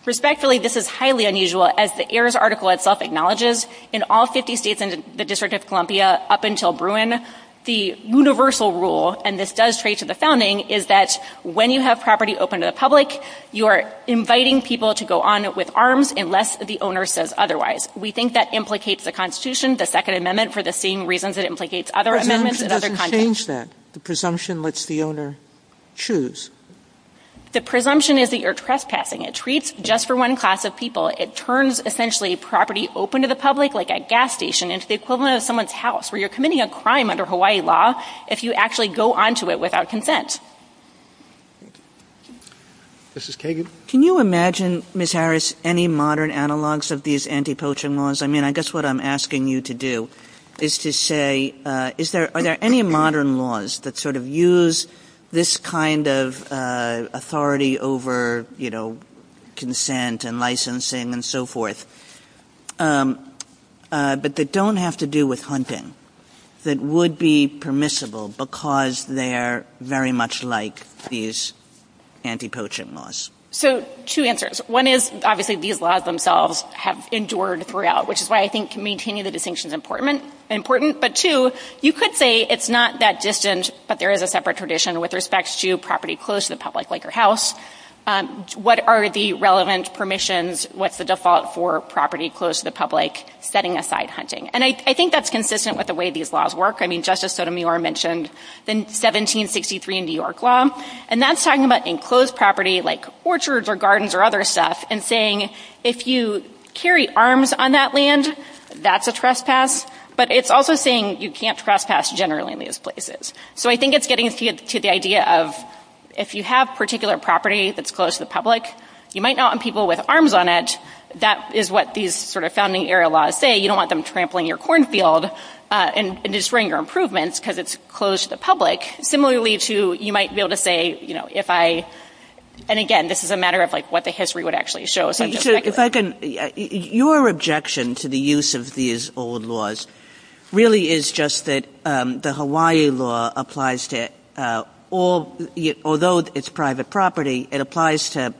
Respectfully, this is highly unusual. As the heirs' article itself acknowledges, in all 50 states in the District of Columbia up until Bruin, the universal rule, and this does trace to the founding, is that when you have property open to the public, you are inviting people to go on with arms unless the owner says otherwise. We think that implicates the Constitution, the second amendment, for the same reasons it implicates other amendments and other content. The presumption doesn't change that. The presumption lets the owner choose. The presumption is that you're trespassing. It treats just for one class of people. It turns essentially property open to the public like a gas station. It's the equivalent of someone's house where you're committing a crime under Hawaii law if you actually go on to it without consent. This is Katie. Can you imagine, Ms. Harris, any modern analogs of these anti-poaching laws? I mean, I guess what I'm asking you to do is to say, are there any modern laws that sort of use this kind of authority over, you know, consent and licensing and so forth, but that don't have to do with hunting, that would be permissible because they're very much like these anti-poaching laws? So, two answers. One is, obviously, these laws themselves have endured throughout, which is why I think maintaining the distinction is important. But two, you could say it's not that distant, but there is a separate tradition with respect to property closed to the public, like your house. What are the relevant permissions with the default for property closed to the public setting aside hunting? And I think that's consistent with the way these laws work. I mean, Justice Sotomayor mentioned the 1763 in New York law, and that's talking about enclosed property like orchards or gardens or other stuff and saying if you carry arms on that land, that's a trespass. But it's also saying you can't trespass generally in these places. So I think it's getting to the idea of if you have particular property that's closed to the public, you might not want people with arms on it. That is what these sort of founding era laws say. You don't want them trampling your cornfield and destroying your improvements because it's closed to the public. Similarly to you might be able to say, you know, if I, and again, this is a matter of like what the history would actually show. Your objection to the use of these old laws really is just that the Hawaii law applies to all, although it's private property, it applies to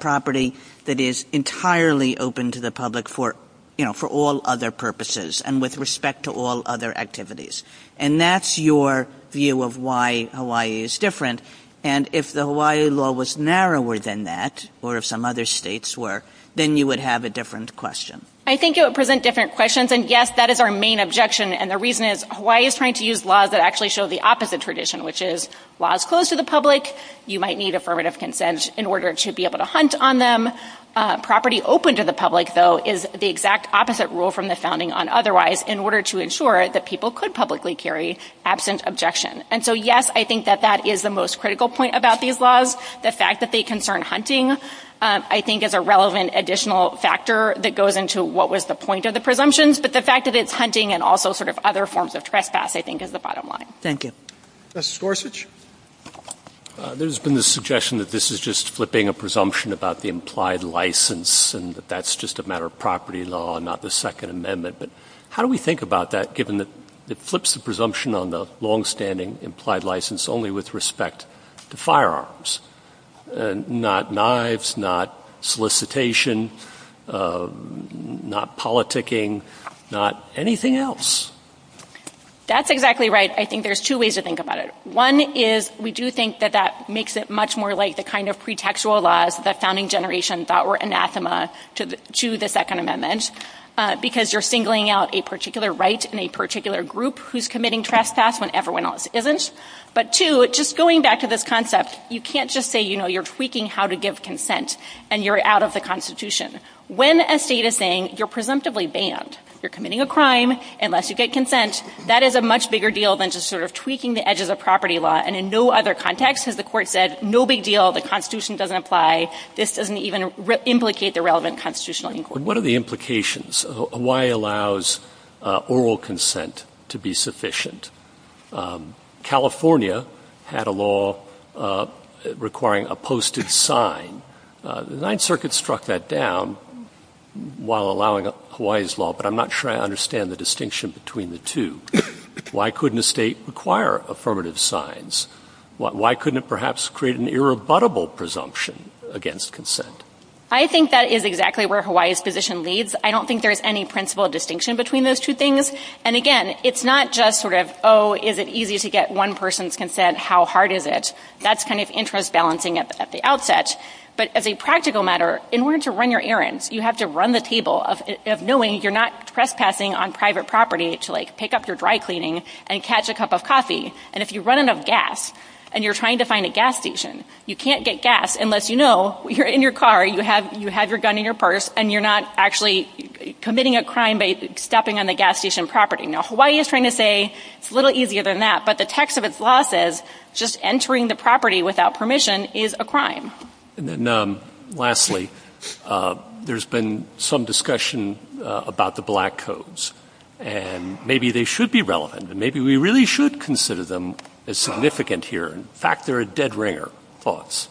property that is entirely open to the public for, you know, for all other purposes and with respect to all other activities. And that's your view of why Hawaii is different. And if the Hawaii law was narrower than that or if some other states were, then you would have a different question. I think it would present different questions. And yes, that is our main objection. And the reason is Hawaii is trying to use laws that actually show the opposite tradition, which is laws closed to the public. You might need affirmative consent in order to be able to hunt on them. Property open to the public, though, is the exact opposite rule from the founding on otherwise in order to ensure that people could publicly carry absent objection. And so, yes, I think that that is the most critical point about these laws. The fact that they concern hunting, I think, is a relevant additional factor that goes into what was the point of the presumptions. But the fact that it's hunting and also sort of other forms of trespass, I think, is the bottom line. Thank you. Justice Gorsuch? There's been this suggestion that this is just flipping a presumption about the implied license and that that's just a matter of property law and not the Second Amendment. But how do we think about that, given that it flips the presumption on the longstanding implied license only with respect to firearms, not knives, not solicitation, not politicking, not anything else? That's exactly right. I think there's two ways to think about it. One is we do think that that makes it much more like the kind of pretextual laws that founding generations thought were anathema to the Second Amendment because you're singling out a particular right in a particular group who's committing trespass when everyone else isn't. But two, just going back to this concept, you can't just say, you know, you're tweaking how to give consent and you're out of the Constitution. When a state is saying you're presumptively banned, you're committing a crime unless you get consent, that is a much bigger deal than just sort of tweaking the edges of property law. And in no other context has the Court said, no big deal, the Constitution doesn't apply, this doesn't even implicate the relevant constitutional inquiry. What are the implications of why it allows oral consent to be sufficient? California had a law requiring a posted sign. The Ninth Circuit struck that down while allowing Hawaii's law, but I'm not sure I understand the distinction between the two. Why couldn't a state require affirmative signs? Why couldn't it perhaps create an irrebuttable presumption against consent? I think that is exactly where Hawaii's position leads. I don't think there's any principal distinction between those two things. And again, it's not just sort of, oh, is it easy to get one person's consent, how hard is it? That's kind of interest balancing at the outset. But as a practical matter, in order to run your errands, you have to run the table, knowing you're not trespassing on private property to, like, pick up your dry cleaning and catch a cup of coffee. And if you run out of gas and you're trying to find a gas station, you can't get gas unless you know you're in your car, you have your gun in your purse, and you're not actually committing a crime by stepping on the gas station property. Now, Hawaii is trying to say it's a little easier than that, but the text of its law says just entering the property without permission is a crime. And then lastly, there's been some discussion about the Black Codes, and maybe they should be relevant, and maybe we really should consider them as significant here. In fact, they're a dead ringer. Thoughts?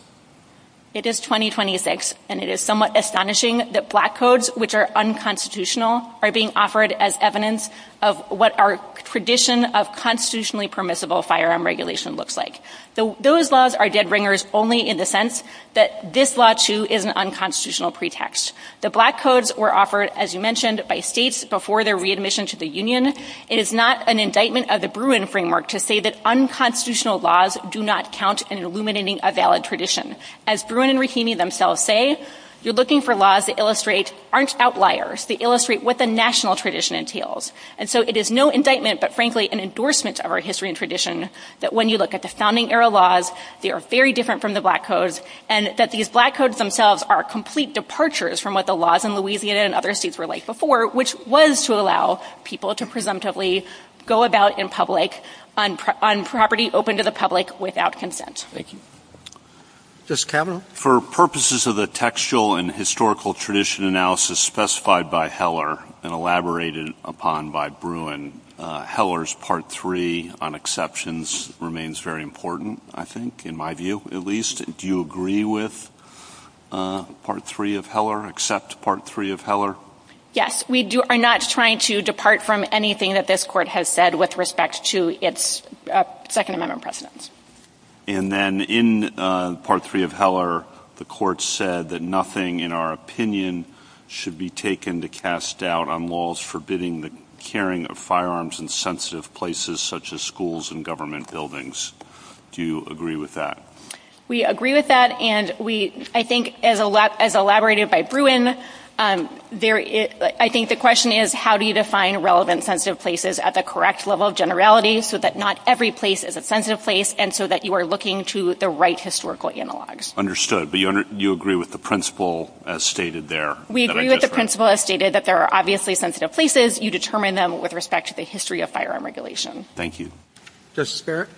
It is 2026, and it is somewhat astonishing that Black Codes, which are unconstitutional, are being offered as evidence of what our tradition of constitutionally permissible firearm regulation looks like. So those laws are dead ringers only in the sense that this law, too, is an unconstitutional pretext. The Black Codes were offered, as you mentioned, by states before their readmission to the union. It is not an indictment of the Bruin framework to say that unconstitutional laws do not count in illuminating a valid tradition. As Bruin and Rahimi themselves say, you're looking for laws that illustrate, aren't outliers, they illustrate what the national tradition entails. And so it is no indictment, but frankly an endorsement of our history and tradition, that when you look at the founding era laws, they are very different from the Black Codes, and that these Black Codes themselves are complete departures from what the laws in Louisiana and other states were like before, which was to allow people to presumptively go about in public, on property open to the public, without consent. For purposes of the textual and historical tradition analysis specified by Heller and elaborated upon by Bruin, Heller's Part III on exceptions remains very important, I think, in my view, at least. Do you agree with Part III of Heller, accept Part III of Heller? Yes, we are not trying to depart from anything that this Court has said with respect to its Second Amendment precedents. And then in Part III of Heller, the Court said that nothing, in our opinion, should be taken to cast doubt on laws forbidding the carrying of firearms in sensitive places, such as schools and government buildings. Do you agree with that? We agree with that, and I think as elaborated by Bruin, I think the question is, how do you define relevant sensitive places at the correct level of generality, so that not every place is a sensitive place, and so that you are looking to the right historical analogs? Understood. But you agree with the principle as stated there? We agree with the principle as stated that there are obviously sensitive places. You determine them with respect to the history of firearm regulation. Thank you. Justice Garrett?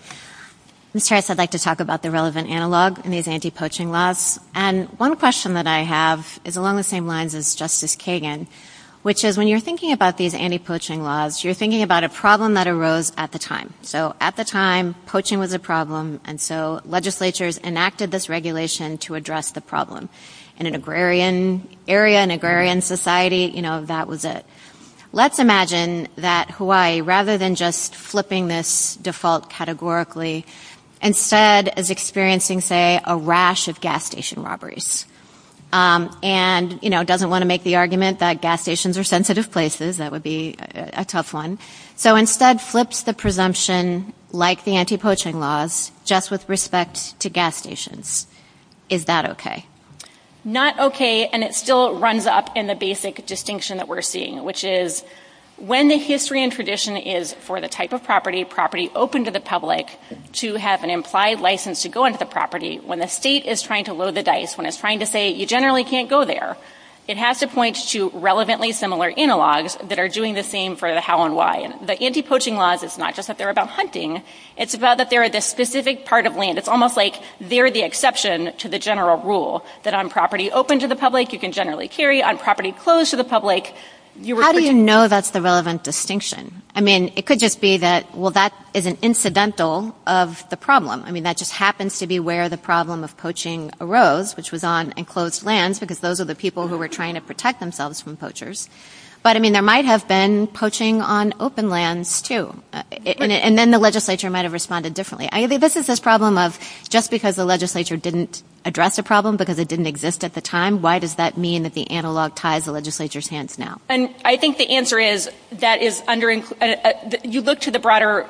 Mr. Harris, I'd like to talk about the relevant analogs and these anti-poaching laws. And one question that I have is along the same lines as Justice Kagan, which is when you're thinking about these anti-poaching laws, you're thinking about a problem that arose at the time. So at the time, poaching was a problem, and so legislatures enacted this regulation to address the problem. In an agrarian area, an agrarian society, you know, that was it. Let's imagine that Hawaii, rather than just flipping this default categorically, instead is experiencing, say, a rash of gas station robberies. And, you know, doesn't want to make the argument that gas stations are sensitive places. That would be a tough one. So instead flips the presumption, like the anti-poaching laws, just with respect to gas stations. Is that okay? Not okay. And it still runs up in the basic distinction that we're seeing, which is when the history and tradition is for the type of property, property open to the public, to have an implied license to go into the property, when the state is trying to load the dice, when it's trying to say you generally can't go there, it has to point to relevantly similar analogs that are doing the same for the how and why. And the anti-poaching laws, it's not just that they're about hunting. It's about that they're a specific part of land. It's almost like they're the exception to the general rule that on property open to the public, you can generally carry, on property closed to the public. How do you know that's the relevant distinction? I mean, it could just be that, well, that is an incidental of the problem. I mean, that just happens to be where the problem of poaching arose, which was on enclosed lands because those are the people who were trying to protect themselves from poachers. But, I mean, there might have been poaching on open lands, too. And then the legislature might have responded differently. I mean, this is this problem of just because the legislature didn't address the problem because it didn't exist at the time, why does that mean that the analog ties the legislature's hands now? And I think the answer is that you look to the broader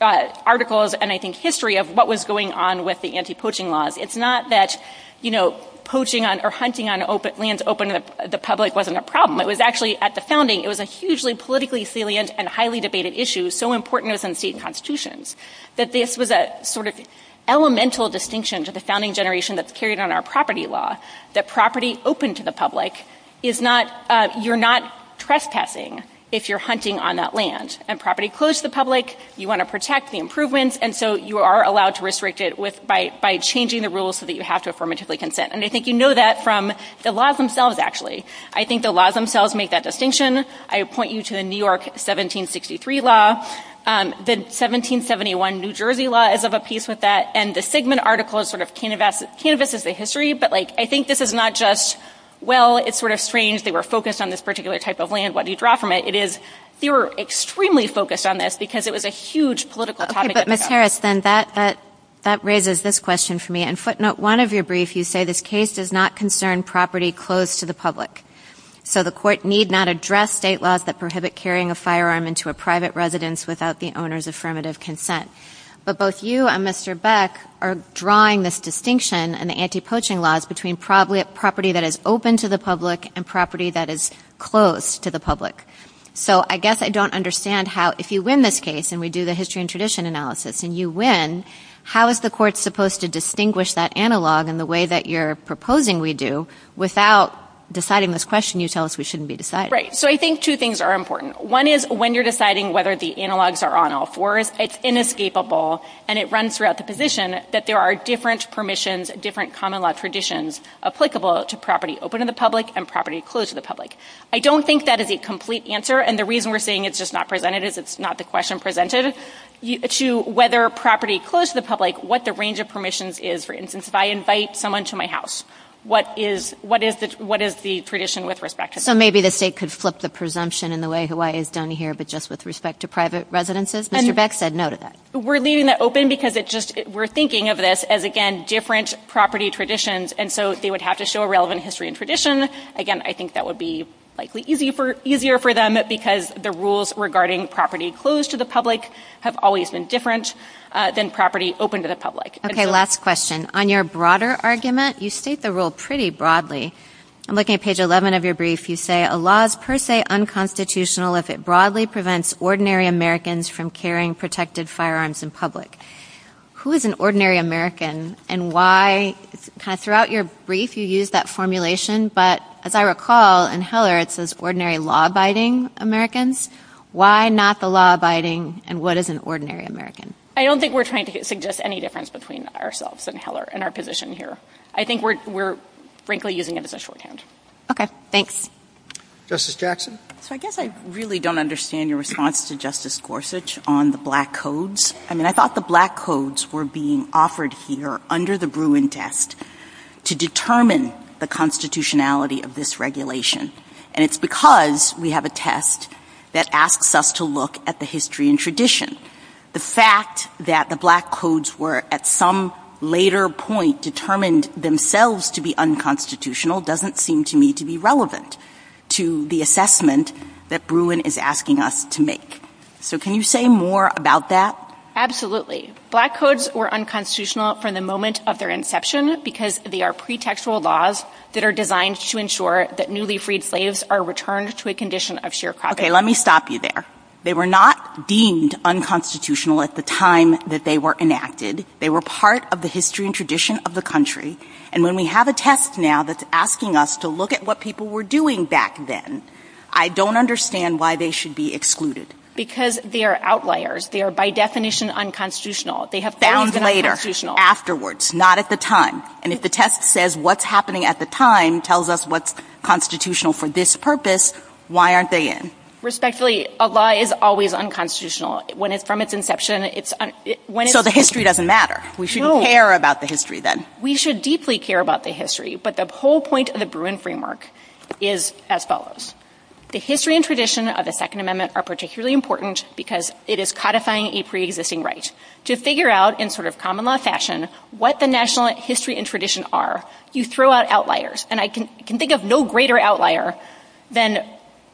articles and I think history of what was going on with the anti-poaching laws. It's not that, you know, poaching or hunting on open lands open to the public wasn't a problem. It was actually at the founding, it was a hugely politically salient and highly debated issue, so important as in state constitutions, that this was a sort of elemental distinction to the founding generation that's carried on our property law, that property open to the public is not, you're not trespassing if you're hunting on that land. And property closed to the public, you want to protect the improvements, and so you are allowed to restrict it by changing the rules so that you have to affirmatively consent. And I think you know that from the laws themselves, actually. I think the laws themselves make that distinction. I point you to the New York 1763 law, the 1771 New Jersey law is of a piece with that, and the Sigmund article sort of canvases the history, but like I think this is not just, well, it's sort of strange they were focused on this particular type of land, what do you draw from it? It is, they were extremely focused on this because it was a huge political topic. Okay, but Ms. Harris, then that raises this question for me. In footnote one of your briefs, you say this case does not concern property closed to the public. So the court need not address state laws that prohibit carrying a firearm into a private residence without the owner's affirmative consent. But both you and Mr. Beck are drawing this distinction in the anti-poaching laws between property that is open to the public and property that is closed to the public. So I guess I don't understand how, if you win this case, and we do the history and tradition analysis, and you win, how is the court supposed to distinguish that analog in the way that you're proposing we do without deciding this question you tell us we shouldn't be deciding? Right, so I think two things are important. One is when you're deciding whether the analogs are on all fours, it's inescapable, and it runs throughout the position that there are different permissions, different common law traditions applicable to property open to the public and property closed to the public. I don't think that is a complete answer, and the reason we're saying it's just not presented is it's not the question presented, to whether property closed to the public, what the range of permissions is, for instance, if I invite someone to my house, what is the tradition with respect to that? So maybe the state could flip the presumption in the way Hawaii is done here, but just with respect to private residences? Mr. Beck said no to that. We're leaving that open because we're thinking of this as, again, different property traditions, and so they would have to show a relevant history and tradition. Again, I think that would be likely easier for them because the rules regarding property closed to the public have always been different than property open to the public. Okay, last question. On your broader argument, you state the rule pretty broadly. Looking at page 11 of your brief, you say, a law is per se unconstitutional if it broadly prevents ordinary Americans from carrying protected firearms in public. Who is an ordinary American, and why? Throughout your brief, you use that formulation, but as I recall, in Heller, it says ordinary law-abiding Americans. Why not the law-abiding, and what is an ordinary American? I don't think we're trying to suggest any difference between ourselves and Heller and our position here. I think we're, frankly, using it as a shorthand. Okay, thanks. Justice Jackson? So I guess I really don't understand your response to Justice Gorsuch on the black codes. I mean, I thought the black codes were being offered here under the Bruin test to determine the constitutionality of this regulation, and it's because we have a test that asks us to look at the history and tradition. The fact that the black codes were at some later point determined themselves to be unconstitutional doesn't seem to me to be relevant to the assessment that Bruin is asking us to make. So can you say more about that? Black codes were unconstitutional from the moment of their inception because they are pretextual laws that are designed to ensure that newly freed slaves are returned to a condition of sheer property. Okay, let me stop you there. They were not deemed unconstitutional at the time that they were enacted. They were part of the history and tradition of the country, and when we have a test now that's asking us to look at what people were doing back then, I don't understand why they should be excluded. Because they are outliers. They are, by definition, unconstitutional. They have been unconstitutional. Found later, afterwards, not at the time. And if the test says what's happening at the time tells us what's constitutional for this purpose, why aren't they in? Respectfully, a law is always unconstitutional from its inception. So the history doesn't matter. We shouldn't care about the history then. We should deeply care about the history, but the whole point of the Bruin framework is as follows. The history and tradition of the Second Amendment are particularly important because it is codifying a preexisting right. To figure out in sort of common law fashion what the national history and tradition are, you throw out outliers. And I can think of no greater outlier than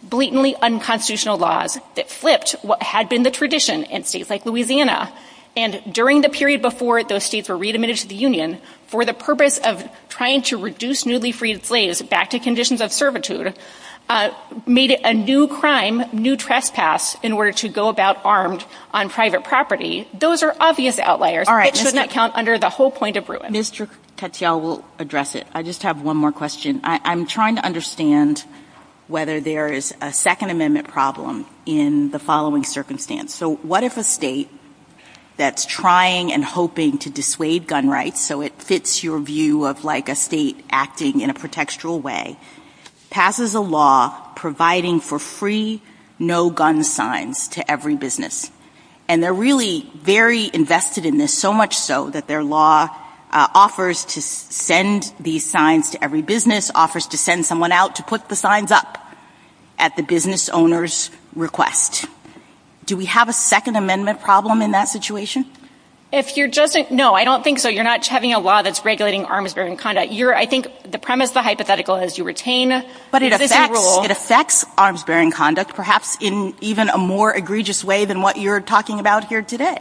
blatantly unconstitutional laws that flipped what had been the tradition in states like Louisiana. And during the period before those states were readmitted to the Union, for the purpose of trying to reduce newly freed slaves back to conditions of servitude, made it a new crime, new trespass, in order to go about armed on private property. Those are obvious outliers. It should not count under the whole point of Bruin. I think Mr. Katyal will address it. I just have one more question. I'm trying to understand whether there is a Second Amendment problem in the following circumstance. So what if a state that's trying and hoping to dissuade gun rights, so it fits your view of like a state acting in a pretextual way, passes a law providing for free no-gun signs to every business? And they're really very invested in this, so much so that their law offers to send these signs to every business, offers to send someone out to put the signs up at the business owner's request. Do we have a Second Amendment problem in that situation? No, I don't think so. You're not having a law that's regulating arms-bearing conduct. I think the premise, the hypothetical, is you retain this rule. But it affects arms-bearing conduct, perhaps in even a more egregious way than what you're talking about here today.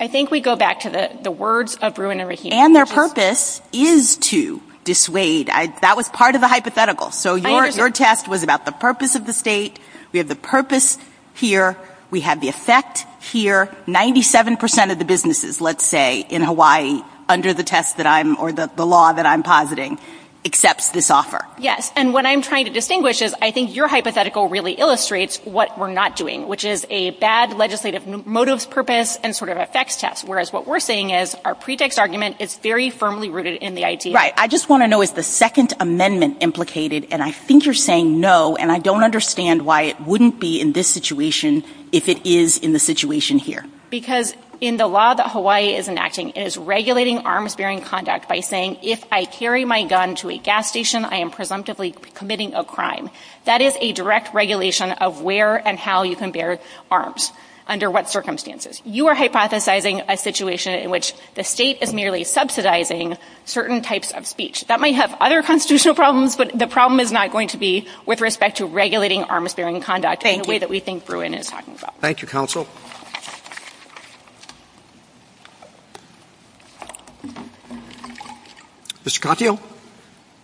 I think we go back to the words of Bruin and Rahim. And their purpose is to dissuade. That was part of the hypothetical. So your test was about the purpose of the state. We have the purpose here. We have the effect here. Ninety-seven percent of the businesses, let's say, in Hawaii, under the test that I'm, or the law that I'm positing, accepts this offer. Yes, and what I'm trying to distinguish is, I think your hypothetical really illustrates what we're not doing, which is a bad legislative motives purpose and sort of effects test. Whereas what we're saying is our pretext argument is very firmly rooted in the idea. Right, I just want to know, is the Second Amendment implicated? And I think you're saying no, and I don't understand why it wouldn't be in this situation if it is in the situation here. Because in the law that Hawaii is enacting, it is regulating arms-bearing conduct by saying, if I carry my gun to a gas station, I am presumptively committing a crime. That is a direct regulation of where and how you can bear arms, under what circumstances. You are hypothesizing a situation in which the state is merely subsidizing certain types of speech. That might have other constitutional problems, but the problem is not going to be with respect to regulating arms-bearing conduct in the way that we think Bruin is talking about. Thank you, Counsel. Mr. Contio.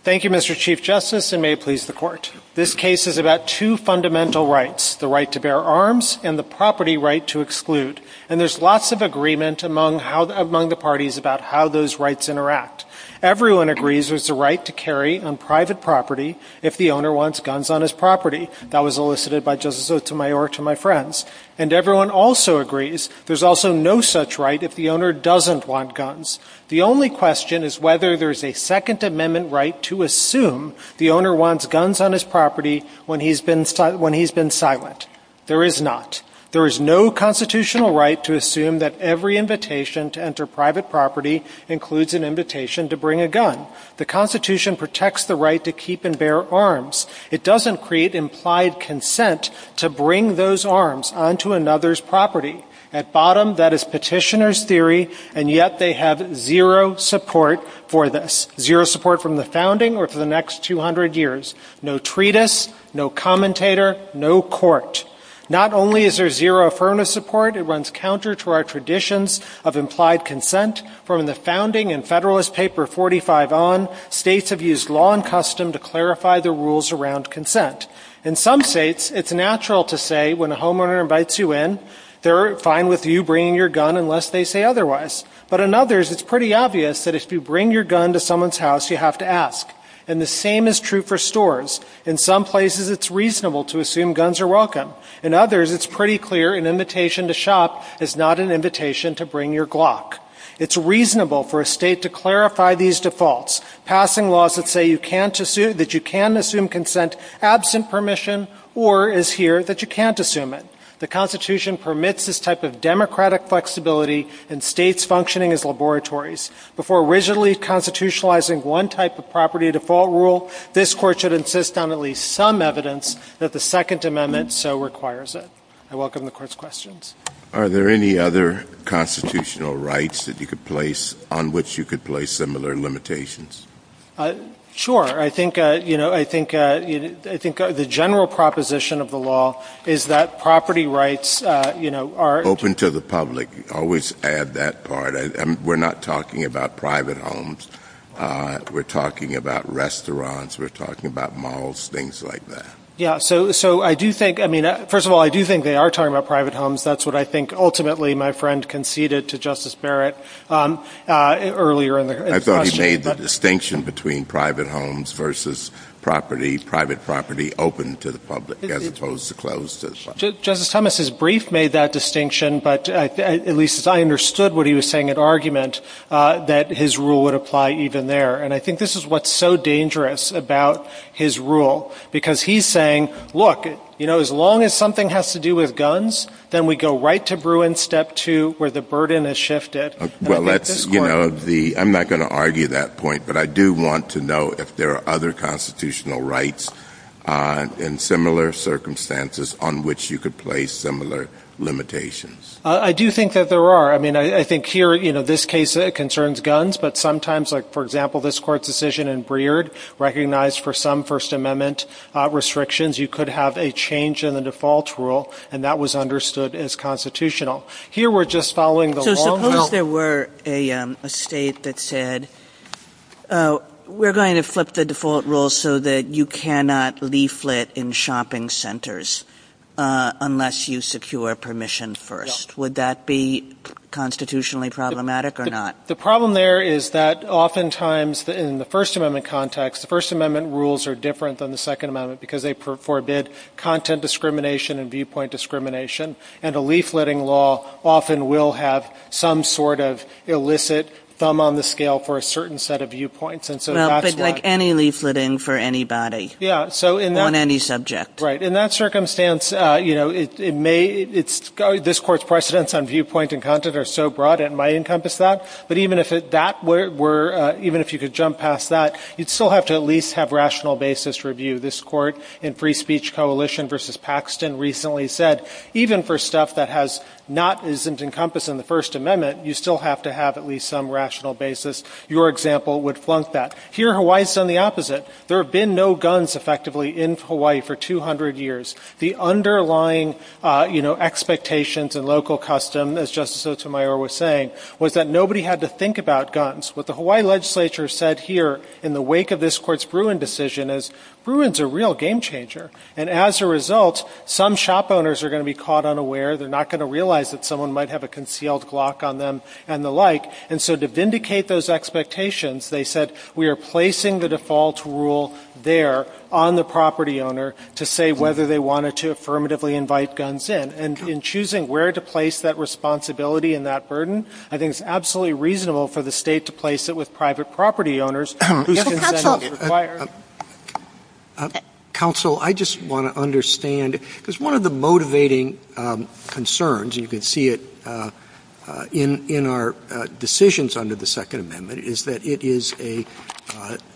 Thank you, Mr. Chief Justice, and may it please the Court. This case is about two fundamental rights, the right to bear arms and the property right to exclude. And there's lots of agreement among the parties about how those rights interact. Everyone agrees there's the right to carry on private property if the owner wants guns on his property. That was elicited by Justice Otemayor to my friends. And everyone also agrees there's also no such right if the owner doesn't want guns. The only question is whether there's a Second Amendment right to assume the owner wants guns on his property when he's been silent. There is not. There is no constitutional right to assume that every invitation to enter private property includes an invitation to bring a gun. The Constitution protects the right to keep and bear arms. It doesn't create implied consent to bring those arms onto another's property. At bottom, that is petitioner's theory, and yet they have zero support for this. Zero support from the founding or for the next 200 years. No treatise, no commentator, no court. Not only is there zero affirmative support, it runs counter to our traditions of implied consent. From the founding in Federalist Paper 45 on, states have used law and custom to clarify the rules around consent. In some states, it's natural to say when a homeowner invites you in, they're fine with you bringing your gun unless they say otherwise. But in others, it's pretty obvious that if you bring your gun to someone's house, you have to ask. And the same is true for stores. In some places, it's reasonable to assume guns are welcome. In others, it's pretty clear an invitation to shop is not an invitation to bring your Glock. It's reasonable for a state to clarify these defaults. Passing laws that say you can assume consent absent permission or is here that you can't assume it. The Constitution permits this type of democratic flexibility in states functioning as laboratories. Before rigidly constitutionalizing one type of property default rule, this Court should insist on at least some evidence that the Second Amendment so requires it. I welcome the Court's questions. Are there any other constitutional rights on which you could place similar limitations? Sure. I think the general proposition of the law is that property rights are— Open to the public. Always add that part. We're not talking about private homes. We're talking about restaurants. We're talking about malls, things like that. First of all, I do think they are talking about private homes. That's what I think ultimately my friend conceded to Justice Barrett earlier in the discussion. I thought he made the distinction between private homes versus property, private property open to the public as opposed to closed to the public. Justice Thomas' brief made that distinction, but at least I understood what he was saying in argument that his rule would apply even there. I think this is what's so dangerous about his rule because he's saying, look, as long as something has to do with guns, then we go right to Bruin Step 2 where the burden is shifted. I'm not going to argue that point, but I do want to know if there are other constitutional rights in similar circumstances on which you could place similar limitations. I do think that there are. I think here this case concerns guns, but sometimes like for example this court's decision in Breard recognized for some First Amendment restrictions you could have a change in the default rule and that was understood as constitutional. Here we're just following the law. Suppose there were a state that said we're going to flip the default rule so that you cannot leaflet in shopping centers unless you secure permission first. Would that be constitutionally problematic or not? The problem there is that oftentimes in the First Amendment context, the First Amendment rules are different than the Second Amendment because they forbid content discrimination and viewpoint discrimination, and the leafletting law often will have some sort of illicit thumb on the scale for a certain set of viewpoints. Like any leafletting for anybody on any subject. Right. In that circumstance, this court's precedents on viewpoint and content are so broad that it might encompass that, but even if you could jump past that, you'd still have to at least have rational basis review. This court in Free Speech Coalition v. Paxton recently said, even for stuff that isn't encompassed in the First Amendment, you still have to have at least some rational basis. Your example would flunk that. Here Hawaii's done the opposite. There have been no guns effectively in Hawaii for 200 years. The underlying expectations and local custom, as Justice Otemayor was saying, was that nobody had to think about guns. What the Hawaii legislature said here in the wake of this court's Bruin decision is, Bruin's a real game changer, and as a result, some shop owners are going to be caught unaware. They're not going to realize that someone might have a concealed glock on them and the like, and so to vindicate those expectations, they said, we are placing the default rule there on the property owner to say whether they wanted to affirmatively invite guns in, and in choosing where to place that responsibility and that burden, I think it's absolutely reasonable for the state to place it with private property owners whose consent is required. Counsel, I just want to understand, because one of the motivating concerns, you can see it in our decisions under the Second Amendment, is that it is a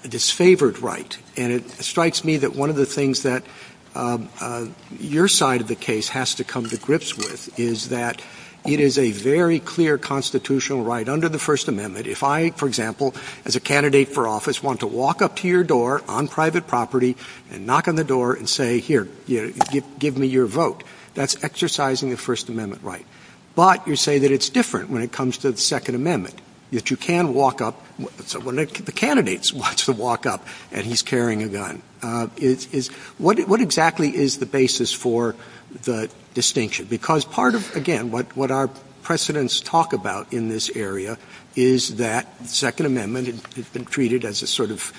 disfavored right, and it strikes me that one of the things that your side of the case has to come to grips with is that it is a very clear constitutional right under the First Amendment. If I, for example, as a candidate for office want to walk up to your door on private property and knock on the door and say, here, give me your vote, that's exercising the First Amendment right. But you say that it's different when it comes to the Second Amendment, that you can walk up, the candidate wants to walk up and he's carrying a gun. What exactly is the basis for the distinction? Because part of, again, what our precedents talk about in this area is that the Second Amendment has been treated as a sort of,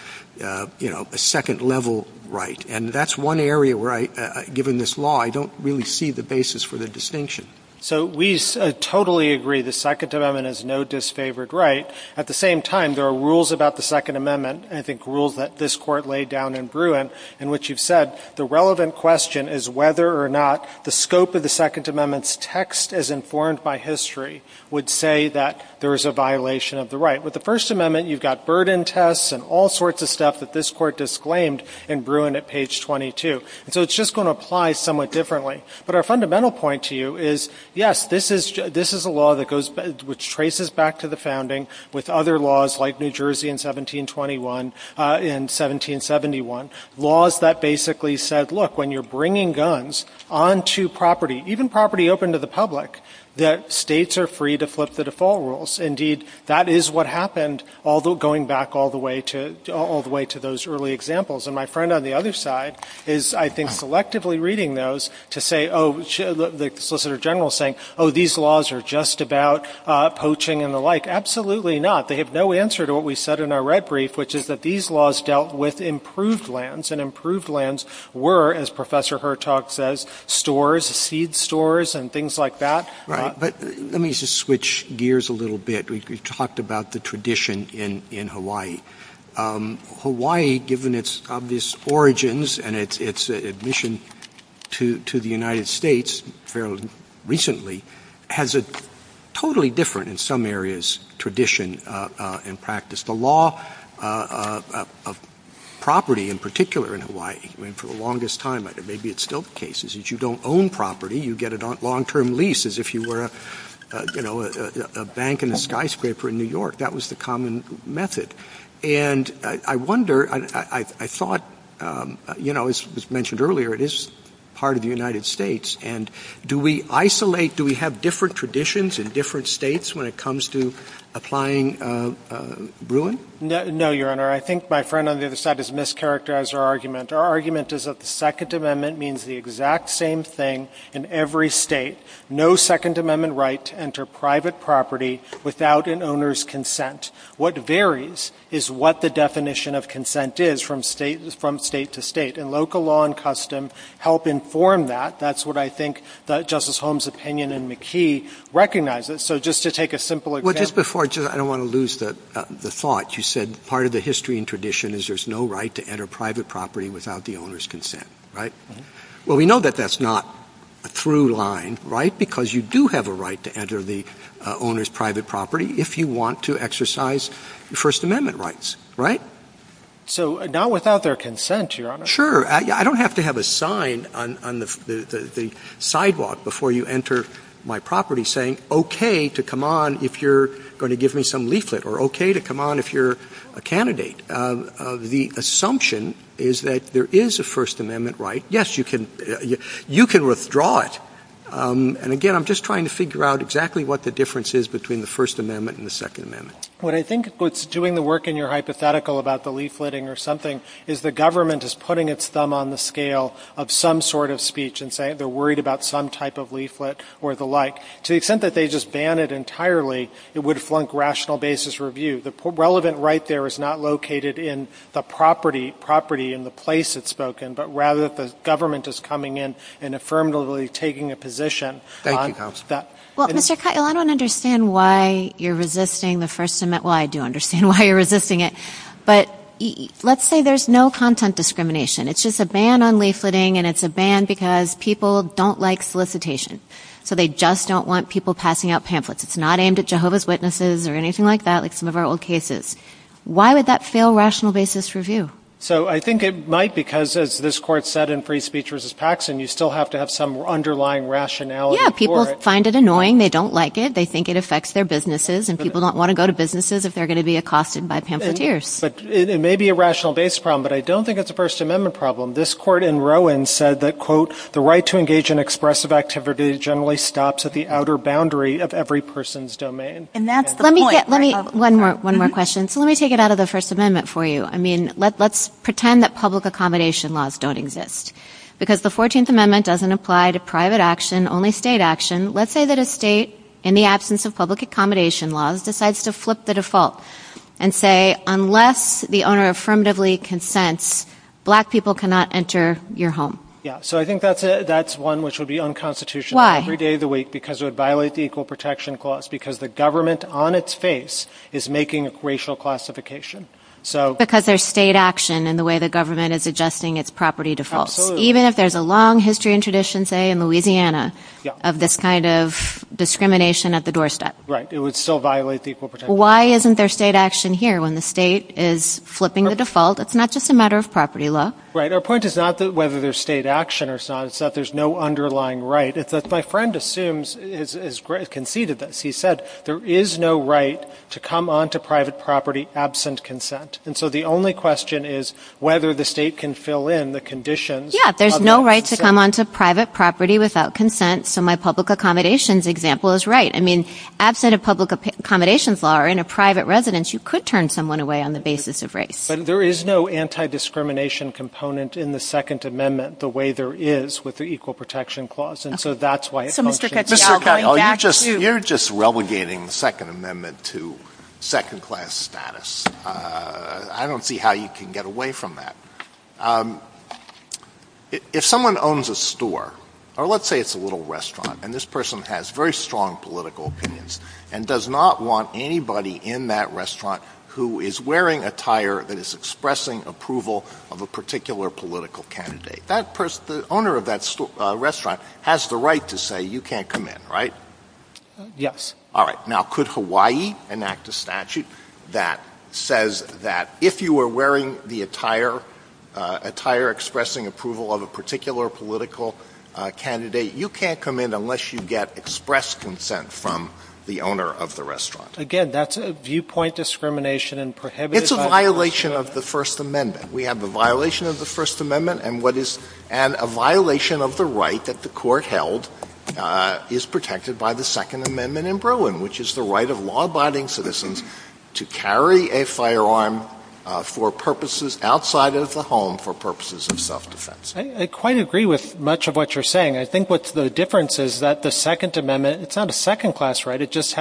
you know, a second-level right, and that's one area where, given this law, I don't really see the basis for the distinction. So we totally agree the Second Amendment is no disfavored right. At the same time, there are rules about the Second Amendment, I think rules that this Court laid down in Bruin, in which you've said the relevant question is whether or not the scope of the Second Amendment's text as informed by history would say that there is a violation of the right. With the First Amendment, you've got burden tests and all sorts of stuff that this Court disclaimed in Bruin at page 22. So it's just going to apply somewhat differently. But our fundamental point to you is, yes, this is a law which traces back to the founding with other laws like New Jersey in 1771, laws that basically said, look, when you're bringing guns onto property, even property open to the public, that states are free to flip the default rules. Indeed, that is what happened going back all the way to those early examples. And my friend on the other side is, I think, collectively reading those to say, oh, the Solicitor General is saying, oh, these laws are just about poaching and the like. Absolutely not. They have no answer to what we said in our red brief, which is that these laws dealt with improved lands, and improved lands were, as Professor Hertog says, stores, seed stores and things like that. Let me just switch gears a little bit. We've talked about the tradition in Hawaii. Hawaii, given its obvious origins and its admission to the United States fairly recently, has a totally different, in some areas, tradition and practice. The law of property in particular in Hawaii, for the longest time, maybe it's still the case, is that you don't own property. You get a long-term lease, as if you were a bank in the skyscraper in New York. That was the common method. And I wonder, I thought, you know, as was mentioned earlier, it is part of the United States. And do we isolate, do we have different traditions in different states when it comes to applying Bruin? No, Your Honor. I think my friend on the other side has mischaracterized our argument. Our argument is that the Second Amendment means the exact same thing in every state. No Second Amendment right to enter private property without an owner's consent. What varies is what the definition of consent is from state to state. And local law and custom help inform that. That's what I think Justice Holmes' opinion in McKee recognizes. So just to take a simple example. Well, just before, I don't want to lose the thought. You said part of the history and tradition is there's no right to enter private property without the owner's consent, right? Well, we know that that's not a through line, right? Because you do have a right to enter the owner's private property if you want to exercise First Amendment rights, right? So not without their consent, Your Honor. Well, sure. I don't have to have a sign on the sidewalk before you enter my property saying okay to come on if you're going to give me some leaflet. Or okay to come on if you're a candidate. The assumption is that there is a First Amendment right. Yes, you can withdraw it. And again, I'm just trying to figure out exactly what the difference is between the First Amendment and the Second Amendment. What I think is doing the work in your hypothetical about the leafleting or something is the government is putting its thumb on the scale of some sort of speech and saying they're worried about some type of leaflet or the like. To the extent that they just ban it entirely, it would flunk rational basis review. The relevant right there is not located in the property, in the place it's spoken, but rather the government is coming in and affirmatively taking a position. Well, Mr. Kyle, I don't understand why you're resisting the First Amendment. Well, I do understand why you're resisting it. But let's say there's no content discrimination. It's just a ban on leafleting and it's a ban because people don't like solicitation. So they just don't want people passing out pamphlets. It's not aimed at Jehovah's Witnesses or anything like that like some of our old cases. Why would that fail rational basis review? So I think it might because as this court said in free speech versus Paxson, you still have to have some underlying rationality for it. They find it annoying. They don't like it. They think it affects their businesses and people don't want to go to businesses if they're going to be accosted by pamphleteers. But it may be a rational basis problem, but I don't think it's a First Amendment problem. This court in Rowan said that, quote, the right to engage in expressive activity generally stops at the outer boundary of every person's domain. And that's the point. One more question. So let me take it out of the First Amendment for you. I mean, let's pretend that public accommodation laws don't exist because the 14th Amendment doesn't apply to private action, only state action. Let's say that a state in the absence of public accommodation laws decides to flip the default and say unless the owner affirmatively consents, black people cannot enter your home. Yeah, so I think that's one which would be unconstitutional every day of the week because it would violate the Equal Protection Clause because the government on its face is making a racial classification. Because there's state action in the way the government is adjusting its property default. Even if there's a long history and tradition, say, in Louisiana of this kind of discrimination at the doorstep. Right, it would still violate the Equal Protection Clause. Why isn't there state action here when the state is flipping the default? It's not just a matter of property law. Right. Our point is not whether there's state action or not. It's that there's no underlying right. My friend assumes, as he said, there is no right to come onto private property absent consent. And so the only question is whether the state can fill in the conditions. Yeah, there's no right to come onto private property without consent. So my public accommodations example is right. I mean, absent of public accommodations law in a private residence, you could turn someone away on the basis of race. But there is no anti-discrimination component in the Second Amendment the way there is with the Equal Protection Clause. And so that's why it won't change. You're just relegating the Second Amendment to second-class status. I don't see how you can get away from that. If someone owns a store, or let's say it's a little restaurant, and this person has very strong political opinions and does not want anybody in that restaurant who is wearing attire that is expressing approval of a particular political candidate, the owner of that restaurant has the right to say you can't come in, right? Yes. All right. Now, could Hawaii enact a statute that says that if you are wearing the attire expressing approval of a particular political candidate, you can't come in unless you get express consent from the owner of the restaurant? Again, that's a viewpoint discrimination and prohibition. It's a violation of the First Amendment. We have a violation of the First Amendment. And a violation of the right that the court held is protected by the Second Amendment in Bruin, which is the right of law-abiding citizens to carry a firearm for purposes outside of the home for purposes of self-defense. I quite agree with much of what you're saying. I think what's the difference is that the Second Amendment, it's not a second-class right. It just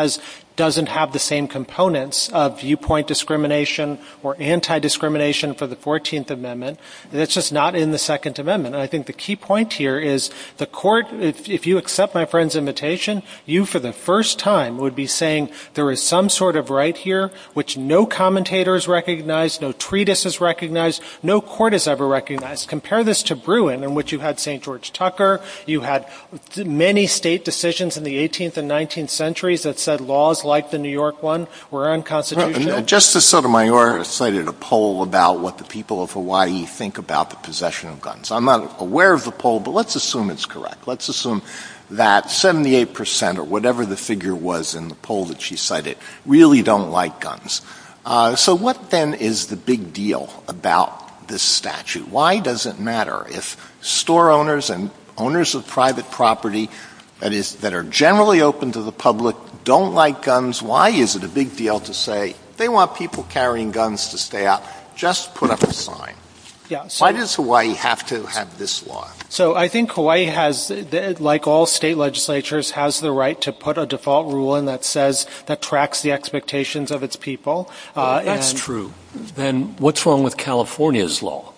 doesn't have the same components of viewpoint discrimination or anti-discrimination for the 14th Amendment. It's just not in the Second Amendment. And I think the key point here is the court, if you accept my friend's invitation, you for the first time would be saying there is some sort of right here which no commentator has recognized, no treatise has recognized, no court has ever recognized. Compare this to Bruin in which you had St. George Tucker. You had many state decisions in the 18th and 19th centuries that said laws like the New York one were unconstitutional. Justice Sotomayor cited a poll about what the people of Hawaii think about the possession of guns. I'm not aware of the poll, but let's assume it's correct. Let's assume that 78 percent or whatever the figure was in the poll that she cited really don't like guns. So what then is the big deal about this statute? Why does it matter if store owners and owners of private property that are generally open to the public don't like guns? Why is it a big deal to say they want people carrying guns to stay out? Just put up a sign. Why does Hawaii have to have this law? So I think Hawaii has, like all state legislatures, has the right to put a default rule in that says that tracks the expectations of its people. That's true. Then what's wrong with California's law,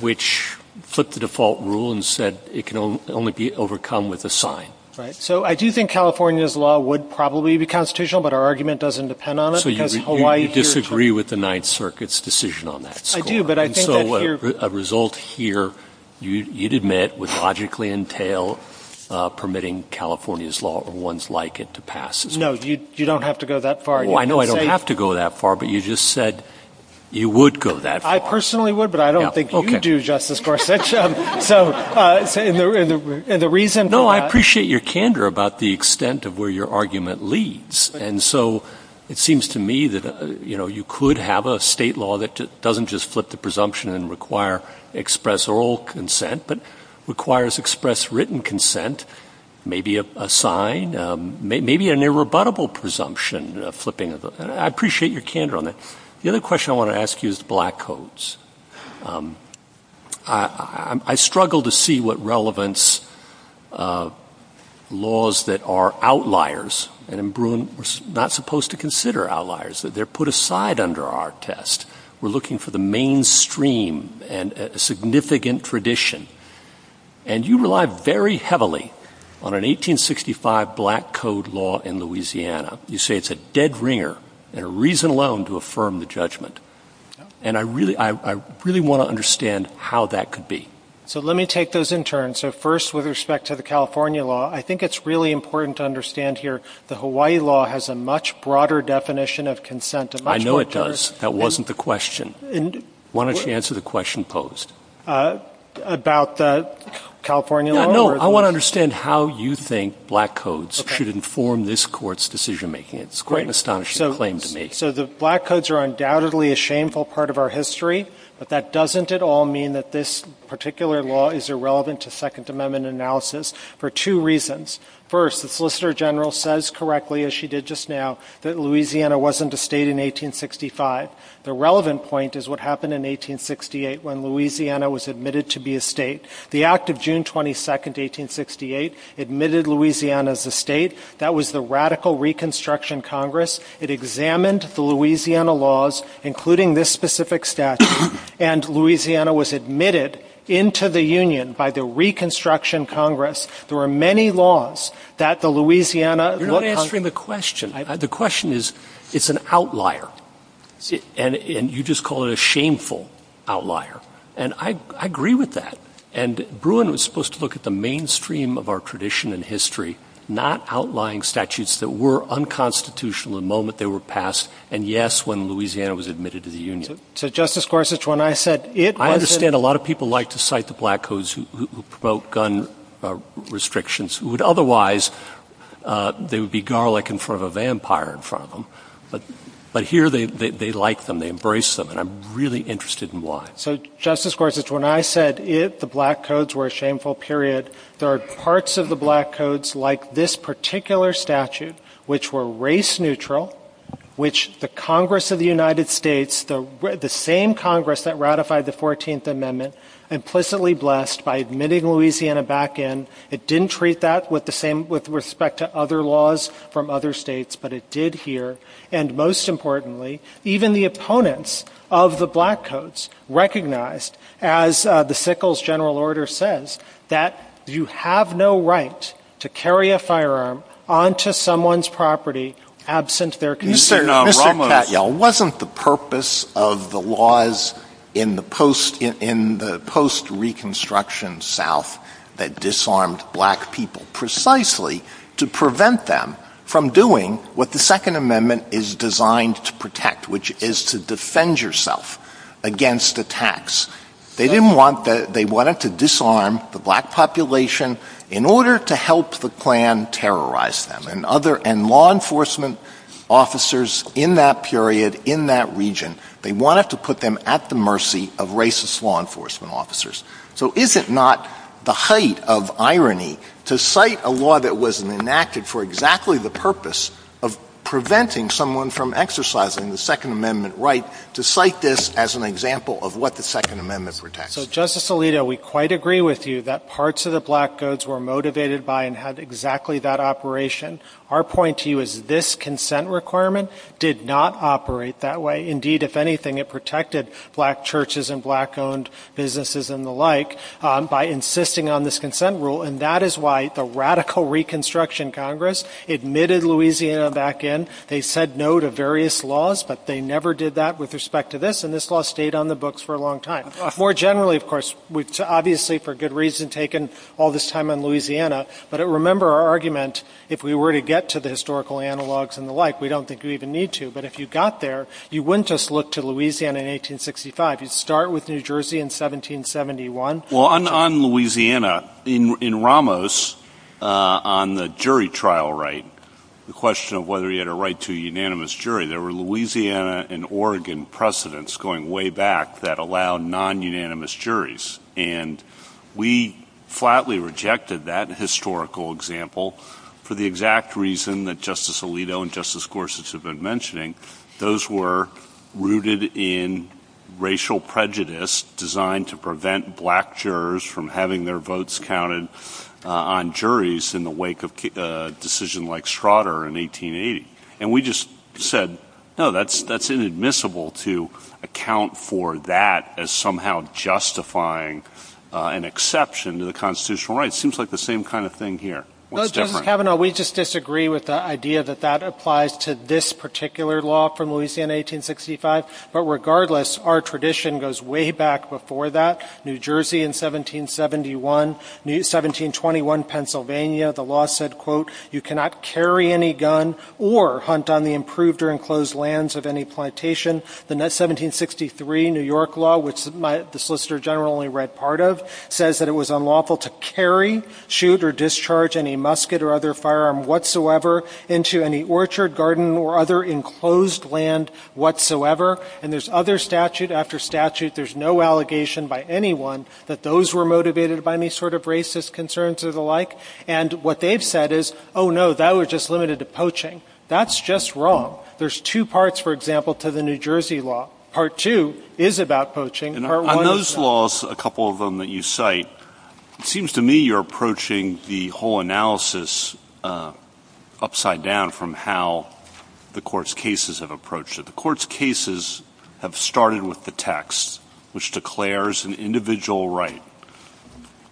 which put the default rule and said it can only be overcome with a sign? Right. So I do think California's law would probably be constitutional, but our argument doesn't depend on it. So you disagree with the Ninth Circuit's decision on that? I do, but I think that you're... So a result here, you'd admit, would logically entail permitting California's law or ones like it to pass. No, you don't have to go that far. Well, I know I don't have to go that far, but you just said you would go that far. I personally would, but I don't think you do, Justice Gorsuch. And the reason for that... No, I appreciate your candor about the extent of where your argument leads. And so it seems to me that you could have a state law that doesn't just flip the presumption and require express oral consent, but requires express written consent, maybe a sign, maybe an irrebuttable presumption flipping. I appreciate your candor on that. The other question I want to ask you is black codes. I struggle to see what relevance laws that are outliers. And in Bruin, we're not supposed to consider outliers, that they're put aside under our test. We're looking for the mainstream and a significant tradition. And you rely very heavily on an 1865 black code law in Louisiana. You say it's a dead ringer and a reason alone to affirm the judgment. And I really want to understand how that could be. So let me take those in turn. So first, with respect to the California law, I think it's really important to understand here the Hawaii law has a much broader definition of consent. I know it does. That wasn't the question. Why don't you answer the question posed? About the California law? No, I want to understand how you think black codes should inform this Court's decision making. It's quite an astonishing claim to make. So the black codes are undoubtedly a shameful part of our history, but that doesn't at all mean that this particular law is irrelevant to Second Amendment analysis for two reasons. First, the Solicitor General says correctly, as she did just now, that Louisiana wasn't a state in 1865. The relevant point is what happened in 1868 when Louisiana was admitted to be a state. The Act of June 22, 1868 admitted Louisiana as a state. That was the Radical Reconstruction Congress. It examined the Louisiana laws, including this specific statute, and Louisiana was admitted into the Union by the Reconstruction Congress. There were many laws that the Louisiana— You're not answering the question. The question is it's an outlier, and you just call it a shameful outlier. And I agree with that. And Bruin was supposed to look at the mainstream of our tradition and history, not outlying statutes that were unconstitutional the moment they were passed, and, yes, when Louisiana was admitted to the Union. So Justice Gorsuch, when I said it wasn't— I understand a lot of people like to cite the Black Codes who promote gun restrictions, who would otherwise—they would be garlic in front of a vampire in front of them. But here they like them. They embrace them, and I'm really interested in why. So, Justice Gorsuch, when I said if the Black Codes were a shameful period, there are parts of the Black Codes like this particular statute which were race-neutral, which the Congress of the United States, the same Congress that ratified the 14th Amendment, implicitly blessed by admitting Louisiana back in. It didn't treat that with respect to other laws from other states, but it did here. And most importantly, even the opponents of the Black Codes recognized, as the Sickles General Order says, that you have no right to carry a firearm onto someone's property absent their consent. Now, it wasn't the purpose of the laws in the post-Reconstruction South that disarmed black people. Precisely to prevent them from doing what the Second Amendment is designed to protect, which is to defend yourself against attacks. They wanted to disarm the black population in order to help the Klan terrorize them. And law enforcement officers in that period, in that region, they wanted to put them at the mercy of racist law enforcement officers. So is it not the height of irony to cite a law that was enacted for exactly the purpose of preventing someone from exercising the Second Amendment right, to cite this as an example of what the Second Amendment protects? Justice Alito, we quite agree with you that parts of the Black Codes were motivated by and had exactly that operation. Our point to you is this consent requirement did not operate that way. Indeed, if anything, it protected black churches and black-owned businesses and the like by insisting on this consent rule. And that is why the radical Reconstruction Congress admitted Louisiana back in. They said no to various laws, but they never did that with respect to this, and this law stayed on the books for a long time. More generally, of course, obviously for good reason taken all this time in Louisiana, but remember our argument, if we were to get to the historical analogs and the like, we don't think we even need to. But if you got there, you wouldn't just look to Louisiana in 1865. You'd start with New Jersey in 1771. Well, on Louisiana, in Ramos, on the jury trial right, the question of whether he had a right to a unanimous jury, there were Louisiana and Oregon precedents going way back that allowed non-unanimous juries. And we flatly rejected that historical example for the exact reason that Justice Alito and Justice Gorsuch have been mentioning. Those were rooted in racial prejudice designed to prevent black jurors from having their votes counted on juries in the wake of a decision like Schroeder in 1880. And we just said, no, that's inadmissible to account for that as somehow justifying an exception to the constitutional right. It seems like the same kind of thing here. Justice Kavanaugh, we just disagree with the idea that that applies to this particular law from Louisiana in 1865. But regardless, our tradition goes way back before that. New Jersey in 1771, 1721 Pennsylvania, the law said, quote, you cannot carry any gun or hunt on the improved or enclosed lands of any plantation. The 1763 New York law, which the solicitor general only read part of, says that it was unlawful to carry, shoot, or discharge any musket or other firearm whatsoever into any orchard, garden, or other enclosed land whatsoever. And there's other statute after statute. There's no allegation by anyone that those were motivated by any sort of racist concerns or the like. And what they've said is, oh, no, that was just limited to poaching. That's just wrong. There's two parts, for example, to the New Jersey law. Part two is about poaching. And on those laws, a couple of them that you cite, it seems to me you're approaching the whole analysis upside down from how the court's cases have approached it. The court's cases have started with the text, which declares an individual right.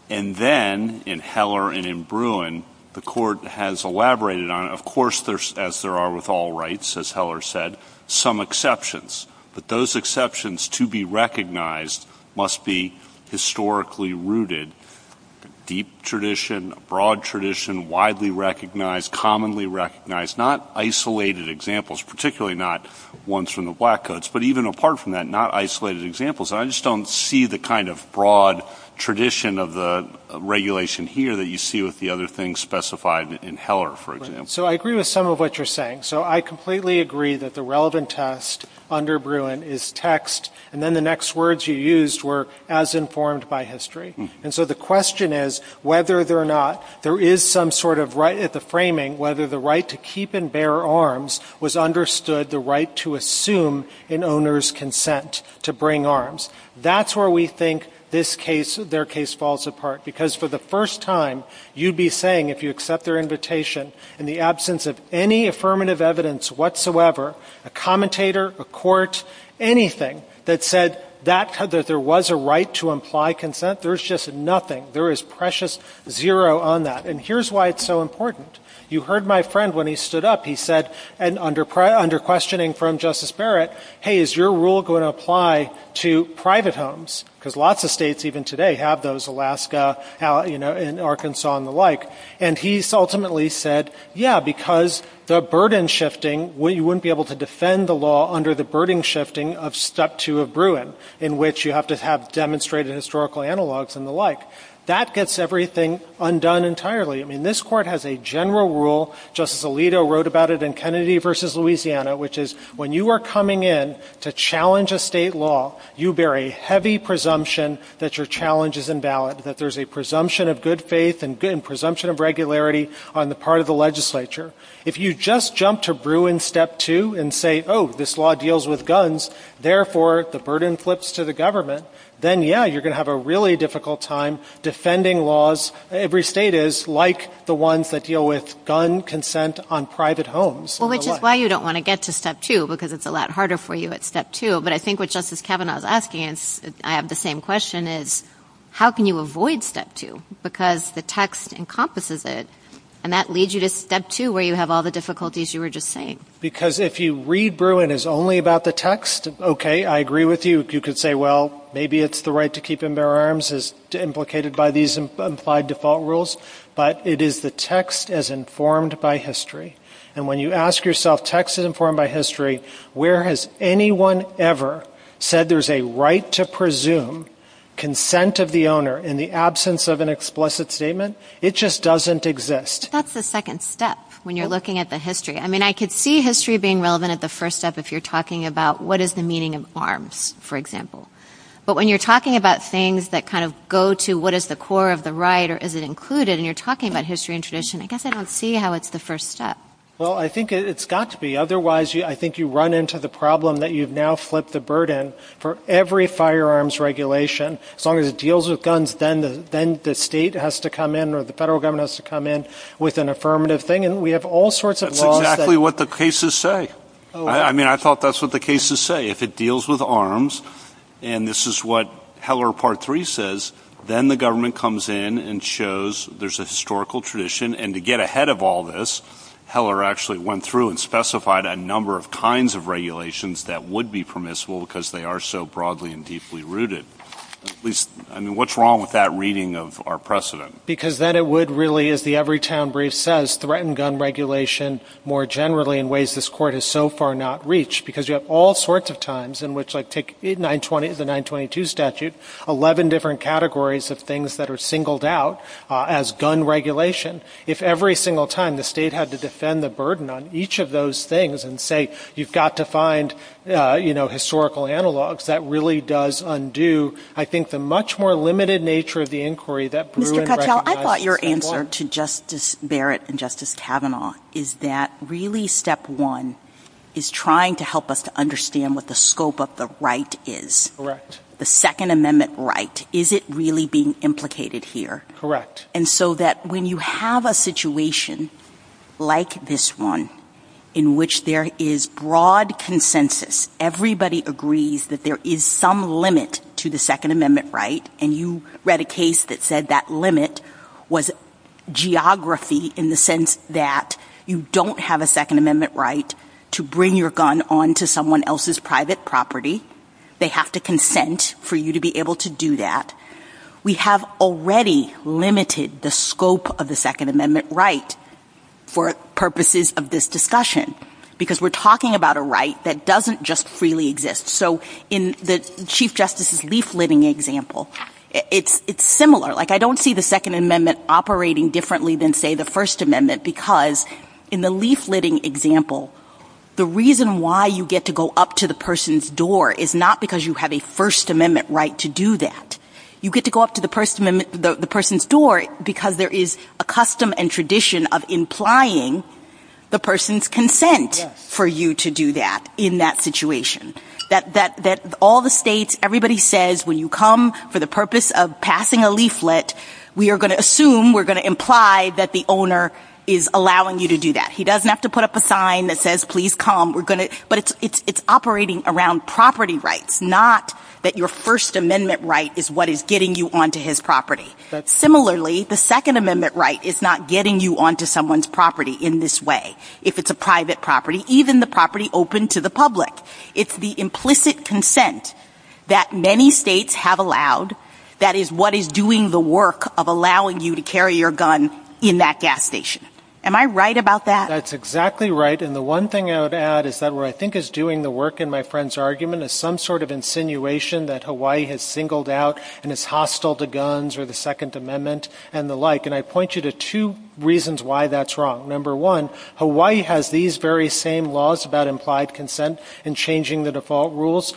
And then in Heller and in Bruin, the court has elaborated on, of course, as there are with all rights, as Heller said, some exceptions. But those exceptions to be recognized must be historically rooted, deep tradition, broad tradition, widely recognized, commonly recognized, not isolated examples, particularly not ones from the Black Coats, but even apart from that, not isolated examples. And I just don't see the kind of broad tradition of the regulation here that you see with the other things specified in Heller, for example. So I agree with some of what you're saying. So I completely agree that the relevant test under Bruin is text, and then the next words you used were as informed by history. And so the question is whether or not there is some sort of right at the framing whether the right to keep and bear arms was understood, the right to assume an owner's consent to bring arms. That's where we think this case, their case, falls apart, because for the first time, you'd be saying, if you accept their invitation in the absence of any affirmative evidence whatsoever, a commentator, a court, anything that said that there was a right to imply consent, there's just nothing. There is precious zero on that. And here's why it's so important. You heard my friend when he stood up. He said, and under questioning from Justice Barrett, hey, is your rule going to apply to private homes? Because lots of states even today have those, Alaska, you know, and Arkansas and the like. And he ultimately said, yeah, because the burden shifting, you wouldn't be able to defend the law under the burden shifting of Step 2 of Bruin, in which you have to have demonstrated historical analogs and the like. That gets everything undone entirely. I mean, this Court has a general rule, Justice Alito wrote about it in Kennedy v. Louisiana, which is when you are coming in to challenge a state law, you bear a heavy presumption that your challenge is invalid, that there's a presumption of good faith and presumption of regularity on the part of the legislature. If you just jump to Bruin Step 2 and say, oh, this law deals with guns, therefore the burden flips to the government, then, yeah, you're going to have a really difficult time defending laws. Every state is like the ones that deal with gun consent on private homes. Well, which is why you don't want to get to Step 2, because it's a lot harder for you at Step 2. But I think what Justice Kavanaugh is asking, and I have the same question, is how can you avoid Step 2? Because the text encompasses it, and that leads you to Step 2, where you have all the difficulties you were just saying. Because if you read Bruin as only about the text, okay, I agree with you. You could say, well, maybe it's the right to keep and bear arms as implicated by these implied default rules, but it is the text as informed by history. And when you ask yourself text as informed by history, where has anyone ever said there's a right to presume consent of the owner in the absence of an explicit statement? It just doesn't exist. But that's the second step when you're looking at the history. I mean, I could see history being relevant at the first step if you're talking about what is the meaning of arms, for example. But when you're talking about things that kind of go to what is the core of the right or is it included, and you're talking about history and tradition, I guess I don't see how it's the first step. Well, I think it's got to be. Otherwise, I think you run into the problem that you've now flipped the burden for every firearms regulation. As long as it deals with guns, then the state has to come in or the federal government has to come in with an affirmative thing. And we have all sorts of laws that – That's exactly what the cases say. I mean, I thought that's what the cases say. If it deals with arms, and this is what Heller Part 3 says, then the government comes in and shows there's a historical tradition. And to get ahead of all this, Heller actually went through and specified a number of kinds of regulations that would be permissible because they are so broadly and deeply rooted. I mean, what's wrong with that reading of our precedent? Because then it would really, as the Everytown Brief says, threaten gun regulation more generally in ways this Court has so far not reached because you have all sorts of times in which, like take the 922 statute, 11 different categories of things that are singled out as gun regulation. If every single time the state had to defend the burden on each of those things and say, you've got to find historical analogs, that really does undo, I think, the much more limited nature of the inquiry that – I thought your answer to Justice Barrett and Justice Kavanaugh is that really step one is trying to help us to understand what the scope of the right is. The Second Amendment right. Is it really being implicated here? And so that when you have a situation like this one in which there is broad consensus, everybody agrees that there is some limit to the Second Amendment right, and you read a case that said that limit was geography in the sense that you don't have a Second Amendment right to bring your gun onto someone else's private property. They have to consent for you to be able to do that. We have already limited the scope of the Second Amendment right for purposes of this discussion because we're talking about a right that doesn't just freely exist. So in the Chief Justice's leafletting example, it's similar. Like, I don't see the Second Amendment operating differently than, say, the First Amendment because in the leafletting example, the reason why you get to go up to the person's door is not because you have a First Amendment right to do that. You get to go up to the person's door because there is a custom and tradition of implying the person's consent for you to do that in that situation. That all the states, everybody says, when you come for the purpose of passing a leaflet, we are going to assume, we're going to imply that the owner is allowing you to do that. He doesn't have to put up a sign that says, please come. But it's operating around property rights, not that your First Amendment right is what is getting you onto his property. Similarly, the Second Amendment right is not getting you onto someone's property in this way. If it's a private property, even the property open to the public. It's the implicit consent that many states have allowed that is what is doing the work of allowing you to carry your gun in that gas station. Am I right about that? That's exactly right, and the one thing I would add is that what I think is doing the work in my friend's argument is some sort of insinuation that Hawaii has singled out and is hostile to guns or the Second Amendment and the like. And I point you to two reasons why that's wrong. Number one, Hawaii has these very same laws about implied consent and changing the default rules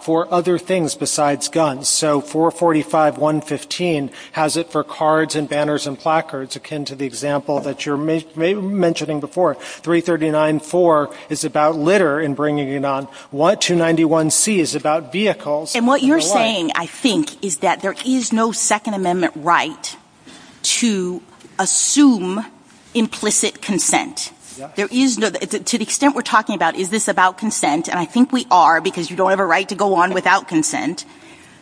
for other things besides guns. So 445.115 has it for cards and banners and placards, akin to the example that you're mentioning before. 339.4 is about litter and bringing it on. What 291c is about vehicles. And what you're saying, I think, is that there is no Second Amendment right to assume implicit consent. To the extent we're talking about is this about consent, and I think we are because you don't have a right to go on without consent,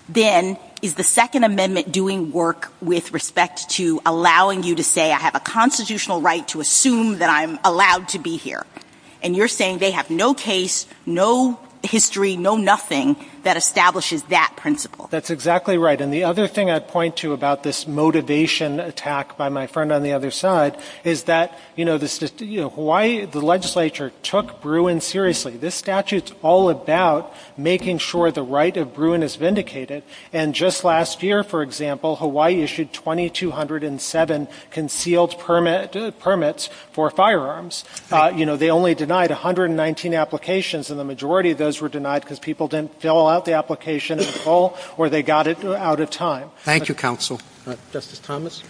then is the Second Amendment doing work with respect to allowing you to say I have a constitutional right to assume that I'm allowed to be here? And you're saying they have no case, no history, no nothing that establishes that principle. That's exactly right. And the other thing I'd point to about this motivation attack by my friend on the other side is that the legislature took Bruin seriously. This statute's all about making sure the right of Bruin is vindicated. And just last year, for example, Hawaii issued 2207 concealed permits for firearms. You know, they only denied 119 applications, and the majority of those were denied because people didn't fill out the application in full or they got it out of time. Thank you, counsel. Justice Thomas?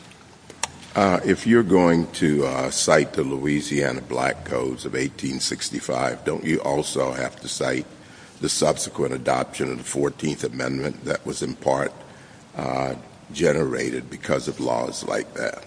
If you're going to cite the Louisiana Black Codes of 1865, don't you also have to cite the subsequent adoption of the 14th Amendment that was in part generated because of laws like that?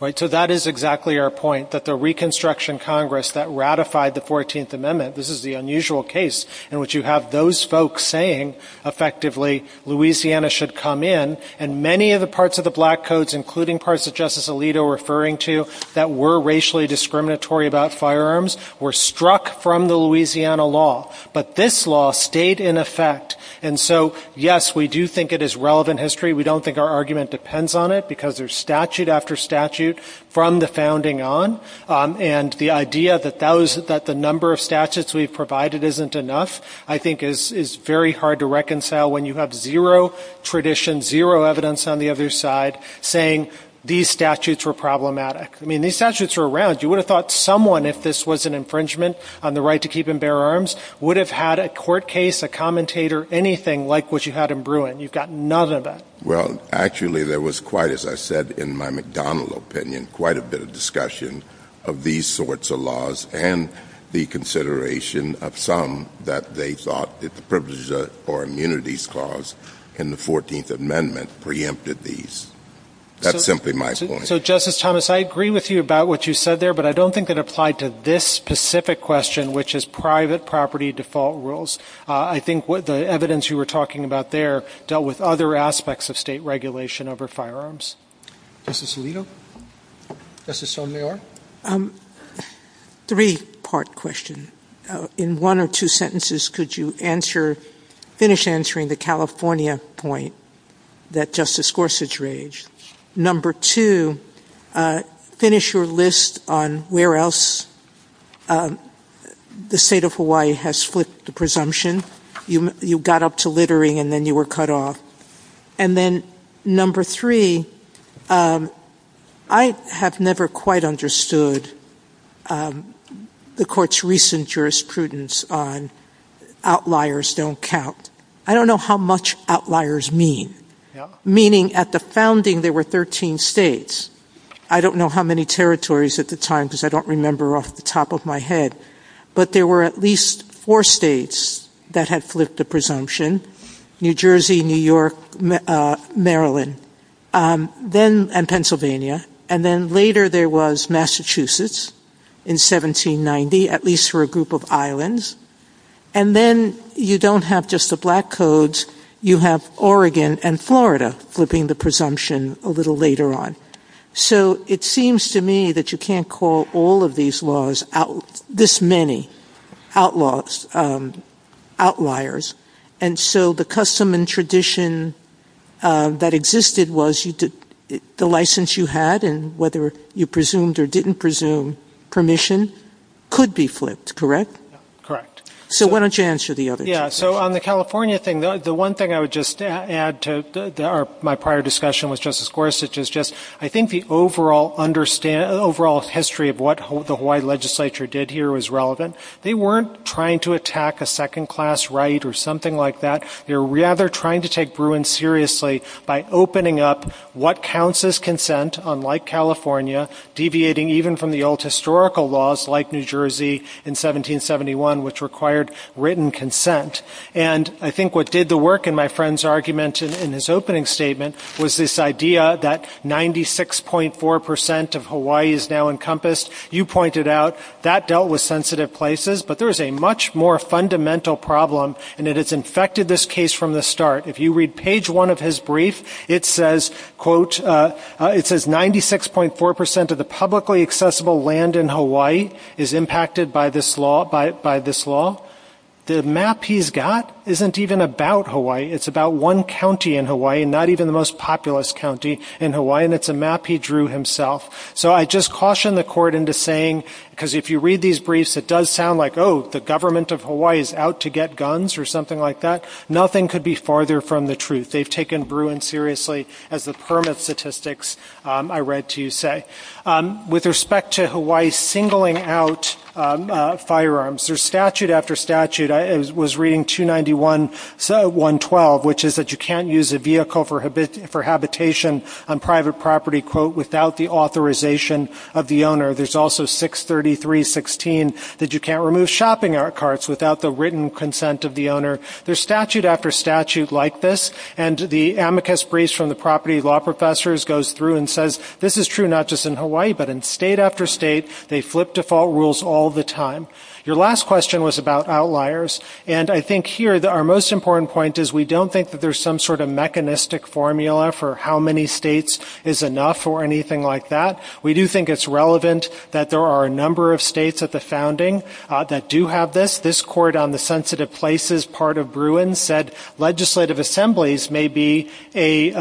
Right. So that is exactly our point, that the Reconstruction Congress that ratified the 14th Amendment, this is the unusual case in which you have those folks saying effectively Louisiana should come in. And many of the parts of the Black Codes, including parts that Justice Alito was referring to, that were racially discriminatory about firearms were struck from the Louisiana law. But this law stayed in effect. And so, yes, we do think it is relevant history. We don't think our argument depends on it because there's statute after statute from the founding on. And the idea that the number of statutes we've provided isn't enough I think is very hard to reconcile when you have zero tradition, zero evidence on the other side saying these statutes were problematic. I mean, these statutes are around. You would have thought someone, if this was an infringement on the right to keep and bear arms, would have had a court case, a commentator, anything like what you had in Bruin. You've got none of that. Well, actually, there was quite, as I said in my McDonnell opinion, quite a bit of discussion of these sorts of laws and the consideration of some that they thought that the privileges or immunities clause in the 14th Amendment preempted these. That's simply my point. So, Justice Thomas, I agree with you about what you said there, but I don't think it applied to this specific question, which is private property default rules. I think the evidence you were talking about there dealt with other aspects of state regulation over firearms. Justice Alito? Justice Sotomayor? Three-part question. In one or two sentences, could you finish answering the California point that Justice Gorsuch raised? Number two, finish your list on where else the state of Hawaii has split the presumption. You got up to littering and then you were cut off. And then number three, I have never quite understood the court's recent jurisprudence on outliers don't count. I don't know how much outliers mean. Meaning at the founding, there were 13 states. I don't know how many territories at the time because I don't remember off the top of my head, but there were at least four states that had flipped the presumption, New Jersey, New York, Maryland, and Pennsylvania. And then later there was Massachusetts in 1790, at least for a group of islands. And then you don't have just the black codes. You have Oregon and Florida flipping the presumption a little later on. So it seems to me that you can't call all of these laws this many outliers. And so the custom and tradition that existed was the license you had and whether you presumed or didn't presume permission could be flipped, correct? So why don't you answer the other thing. Yeah. So on the California thing, the one thing I would just add to my prior discussion with Justice Gorsuch is just, I think the overall history of what the Hawaii legislature did here was relevant. They weren't trying to attack a second-class right or something like that. They were rather trying to take Bruin seriously by opening up what counts as consent, unlike California, deviating even from the old historical laws like New Jersey in 1771, which required written consent. And I think what did the work in my friend's argument in his opening statement was this idea that 96.4 percent of Hawaii is now encompassed. You pointed out that dealt with sensitive places. But there is a much more fundamental problem, and it has infected this case from the start. If you read page one of his brief, it says, quote, it says 96.4 percent of the publicly accessible land in Hawaii is impacted by this law. The map he's got isn't even about Hawaii. It's about one county in Hawaii, not even the most populous county in Hawaii, and it's a map he drew himself. So I just caution the court into saying, because if you read these briefs, it does sound like, oh, the government of Hawaii is out to get guns or something like that. Nothing could be farther from the truth. They've taken Bruin seriously, as the permit statistics I read to you say. With respect to Hawaii singling out firearms, there's statute after statute. I was reading 291.112, which is that you can't use a vehicle for habitation on private property, quote, without the authorization of the owner. There's also 633.16 that you can't remove shopping carts without the written consent of the owner. There's statute after statute like this, and the amicus briefs from the property law professors goes through and says, this is true not just in Hawaii, but in state after state, they flip default rules all the time. Your last question was about outliers, and I think here our most important point is we don't think that there's some sort of mechanistic formula for how many states is enough or anything like that. We do think it's relevant that there are a number of states at the founding that do have this. This court on the sensitive places part of Bruin said legislative assemblies may be a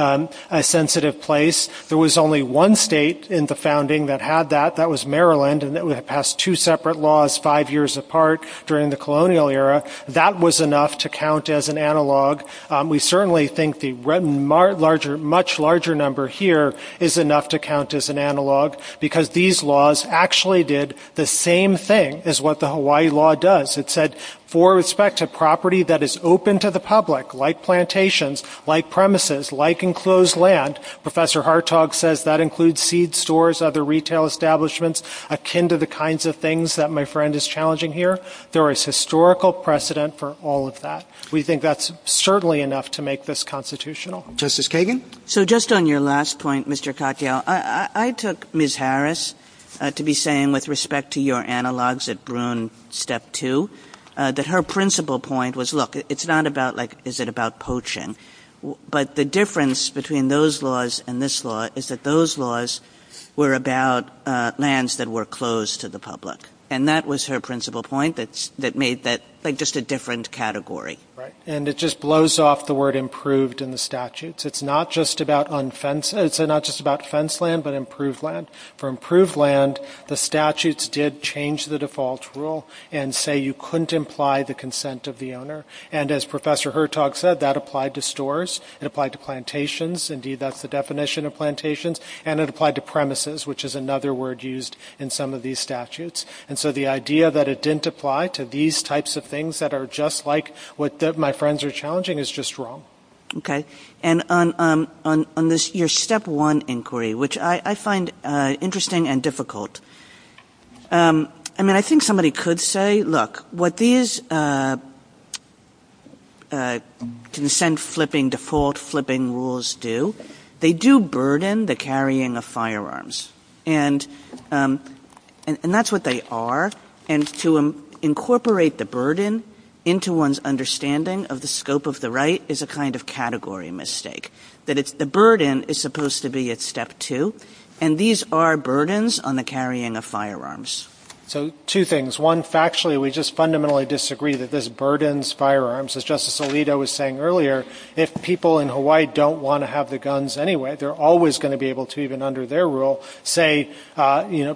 sensitive place. There was only one state in the founding that had that. That was Maryland, and it would have passed two separate laws five years apart during the colonial era. That was enough to count as an analog. We certainly think the much larger number here is enough to count as an analog, because these laws actually did the same thing as what the Hawaii law does. It said, for respect to property that is open to the public, like plantations, like premises, like enclosed land, Professor Hartog says that includes seed stores, other retail establishments akin to the kinds of things that my friend is challenging here. There is historical precedent for all of that. We think that's certainly enough to make this constitutional. Justice Kagan? So just on your last point, Mr. Katyal, I took Ms. Harris to be saying with respect to your analogs at Bruin Step 2 that her principal point was, look, it's not about like is it about poaching, but the difference between those laws and this law is that those laws were about lands that were closed to the public, and that was her principal point that made that like just a different category. Right, and it just blows off the word improved in the statutes. It's not just about fence land, but improved land. For improved land, the statutes did change the default rule and say you couldn't imply the consent of the owner, and as Professor Hartog said, that applied to stores. It applied to plantations. Indeed, that's the definition of plantations, and it applied to premises, which is another word used in some of these statutes, and so the idea that it didn't apply to these types of things that are just like what my friends are challenging is just wrong. Okay, and on your Step 1 inquiry, which I find interesting and difficult, I mean, I think somebody could say, look, what these consent-flipping, default-flipping rules do, they do burden the carrying of firearms, and that's what they are, and to incorporate the burden into one's understanding of the scope of the right is a kind of category mistake, that the burden is supposed to be at Step 2, and these are burdens on the carrying of firearms. So two things. One, factually, we just fundamentally disagree that this burdens firearms. As Justice Alito was saying earlier, if people in Hawaii don't want to have the guns anyway, they're always going to be able to, even under their rule,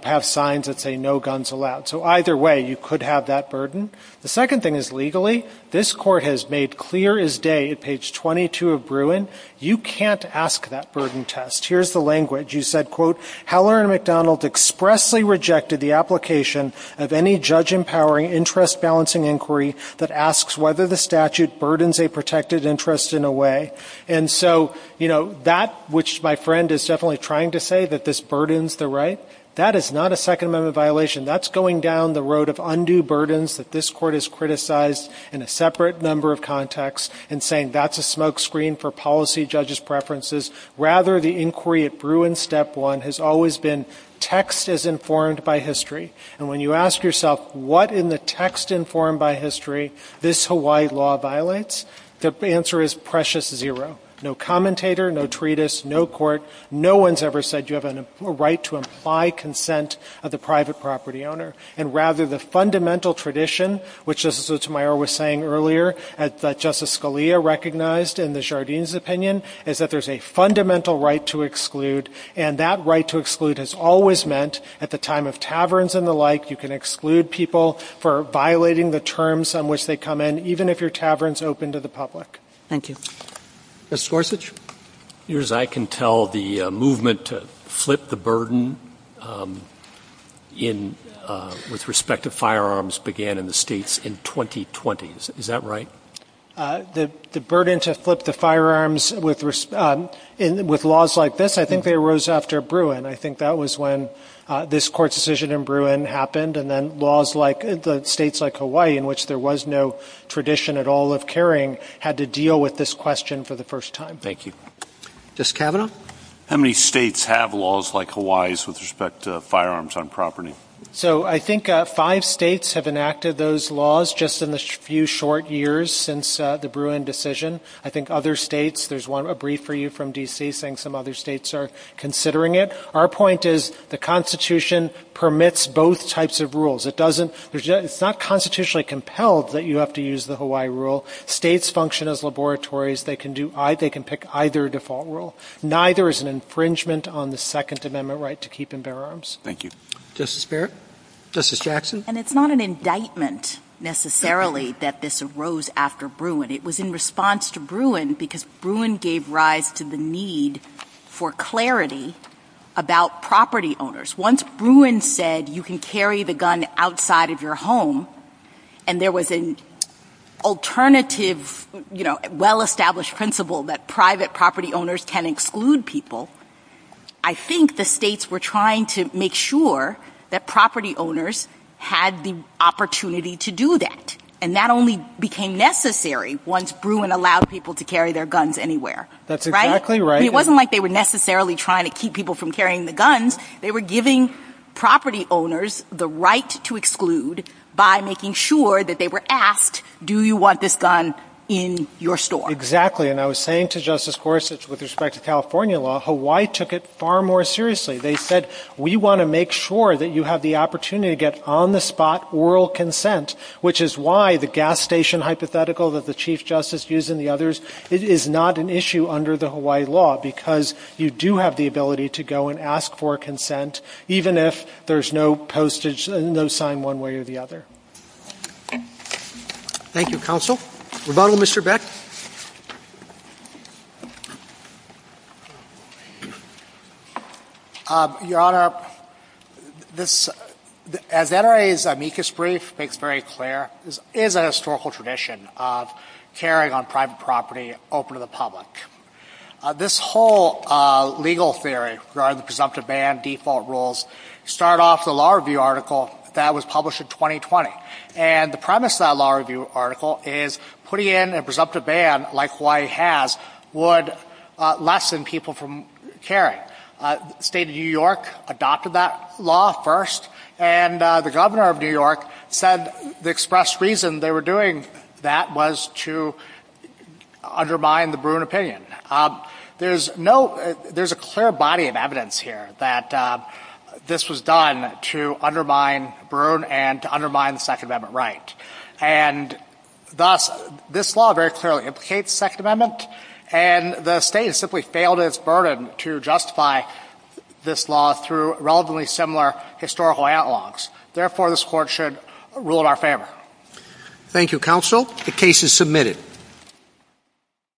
have signs that say no guns allowed. So either way, you could have that burden. The second thing is legally. This Court has made clear as day at page 22 of Bruin, you can't ask that burden test. Here's the language. You said, quote, Howard and McDonald expressly rejected the application of any judge-empowering interest-balancing inquiry that asks whether the statute burdens a protected interest in a way. And so, you know, that, which my friend is definitely trying to say, that this burdens the right, that is not a Second Amendment violation. That's going down the road of undue burdens that this Court has criticized in a separate number of contexts and saying that's a smokescreen for policy judges' preferences. Rather, the inquiry at Bruin Step 1 has always been text is informed by history. And when you ask yourself what in the text informed by history this Hawaii law violates, the answer is precious zero. No commentator, no treatise, no court. No one's ever said you have a right to imply consent of the private property owner. And rather, the fundamental tradition, which Justice Meyer was saying earlier, that Justice Scalia recognized in the Jardine's opinion, is that there's a fundamental right to exclude. And that right to exclude has always meant at the time of taverns and the like, you can exclude people for violating the terms on which they come in, even if your tavern's open to the public. Thank you. Ms. Gorsuch? Your Honor, as I can tell, the movement to flip the burden with respect to firearms began in the states in 2020. Is that right? The burden to flip the firearms with laws like this, I think, arose after Bruin. I think that was when this Court's decision in Bruin happened. And then laws like the states like Hawaii, in which there was no tradition at all of carrying, had to deal with this question for the first time. Thank you. Justice Kavanaugh? How many states have laws like Hawaii's with respect to firearms on property? So I think five states have enacted those laws just in the few short years since the Bruin decision. I think other states, there's a brief for you from D.C. saying some other states are considering it. Our point is the Constitution permits both types of rules. It's not constitutionally compelled that you have to use the Hawaii rule. States function as laboratories. They can pick either default rule. Neither is an infringement on the Second Amendment right to keep and bear arms. Thank you. Justice Barrett? Justice Jackson? And it's not an indictment necessarily that this arose after Bruin. It was in response to Bruin because Bruin gave rise to the need for clarity about property owners. Once Bruin said you can carry the gun outside of your home and there was an alternative, well-established principle that private property owners can exclude people, I think the states were trying to make sure that property owners had the opportunity to do that. And that only became necessary once Bruin allowed people to carry their guns anywhere. That's exactly right. It wasn't like they were necessarily trying to keep people from carrying the guns. They were giving property owners the right to exclude by making sure that they were asked, do you want this gun in your store? Exactly. And I was saying to Justice Gorsuch with respect to California law, Hawaii took it far more seriously. They said we want to make sure that you have the opportunity to get on-the-spot oral consent, which is why the gas station hypothetical that the Chief Justice used and the others, it is not an issue under the Hawaii law because you do have the ability to go and ask for consent, even if there's no sign one way or the other. Thank you, Counsel. Rebuttal, Mr. Beck. Your Honor, as NRA's amicus brief makes very clear, there is a historical tradition of carrying on private property open to the public. This whole legal theory regarding the presumptive ban, default rules, start off the law review article that was published in 2020. And the premise of that law review article is putting in a presumptive ban like Hawaii has would lessen people from carrying. The State of New York adopted that law first, and the Governor of New York said the express reason they were doing that was to undermine the Bruin opinion. There's a clear body of evidence here that this was done to undermine Bruin and to undermine the Second Amendment right. And thus, this law very clearly implicates the Second Amendment, and the State has simply failed in its burden to justify this law through relatively similar historical analogs. Therefore, this Court should rule in our favor. Thank you, Counsel. The case is submitted.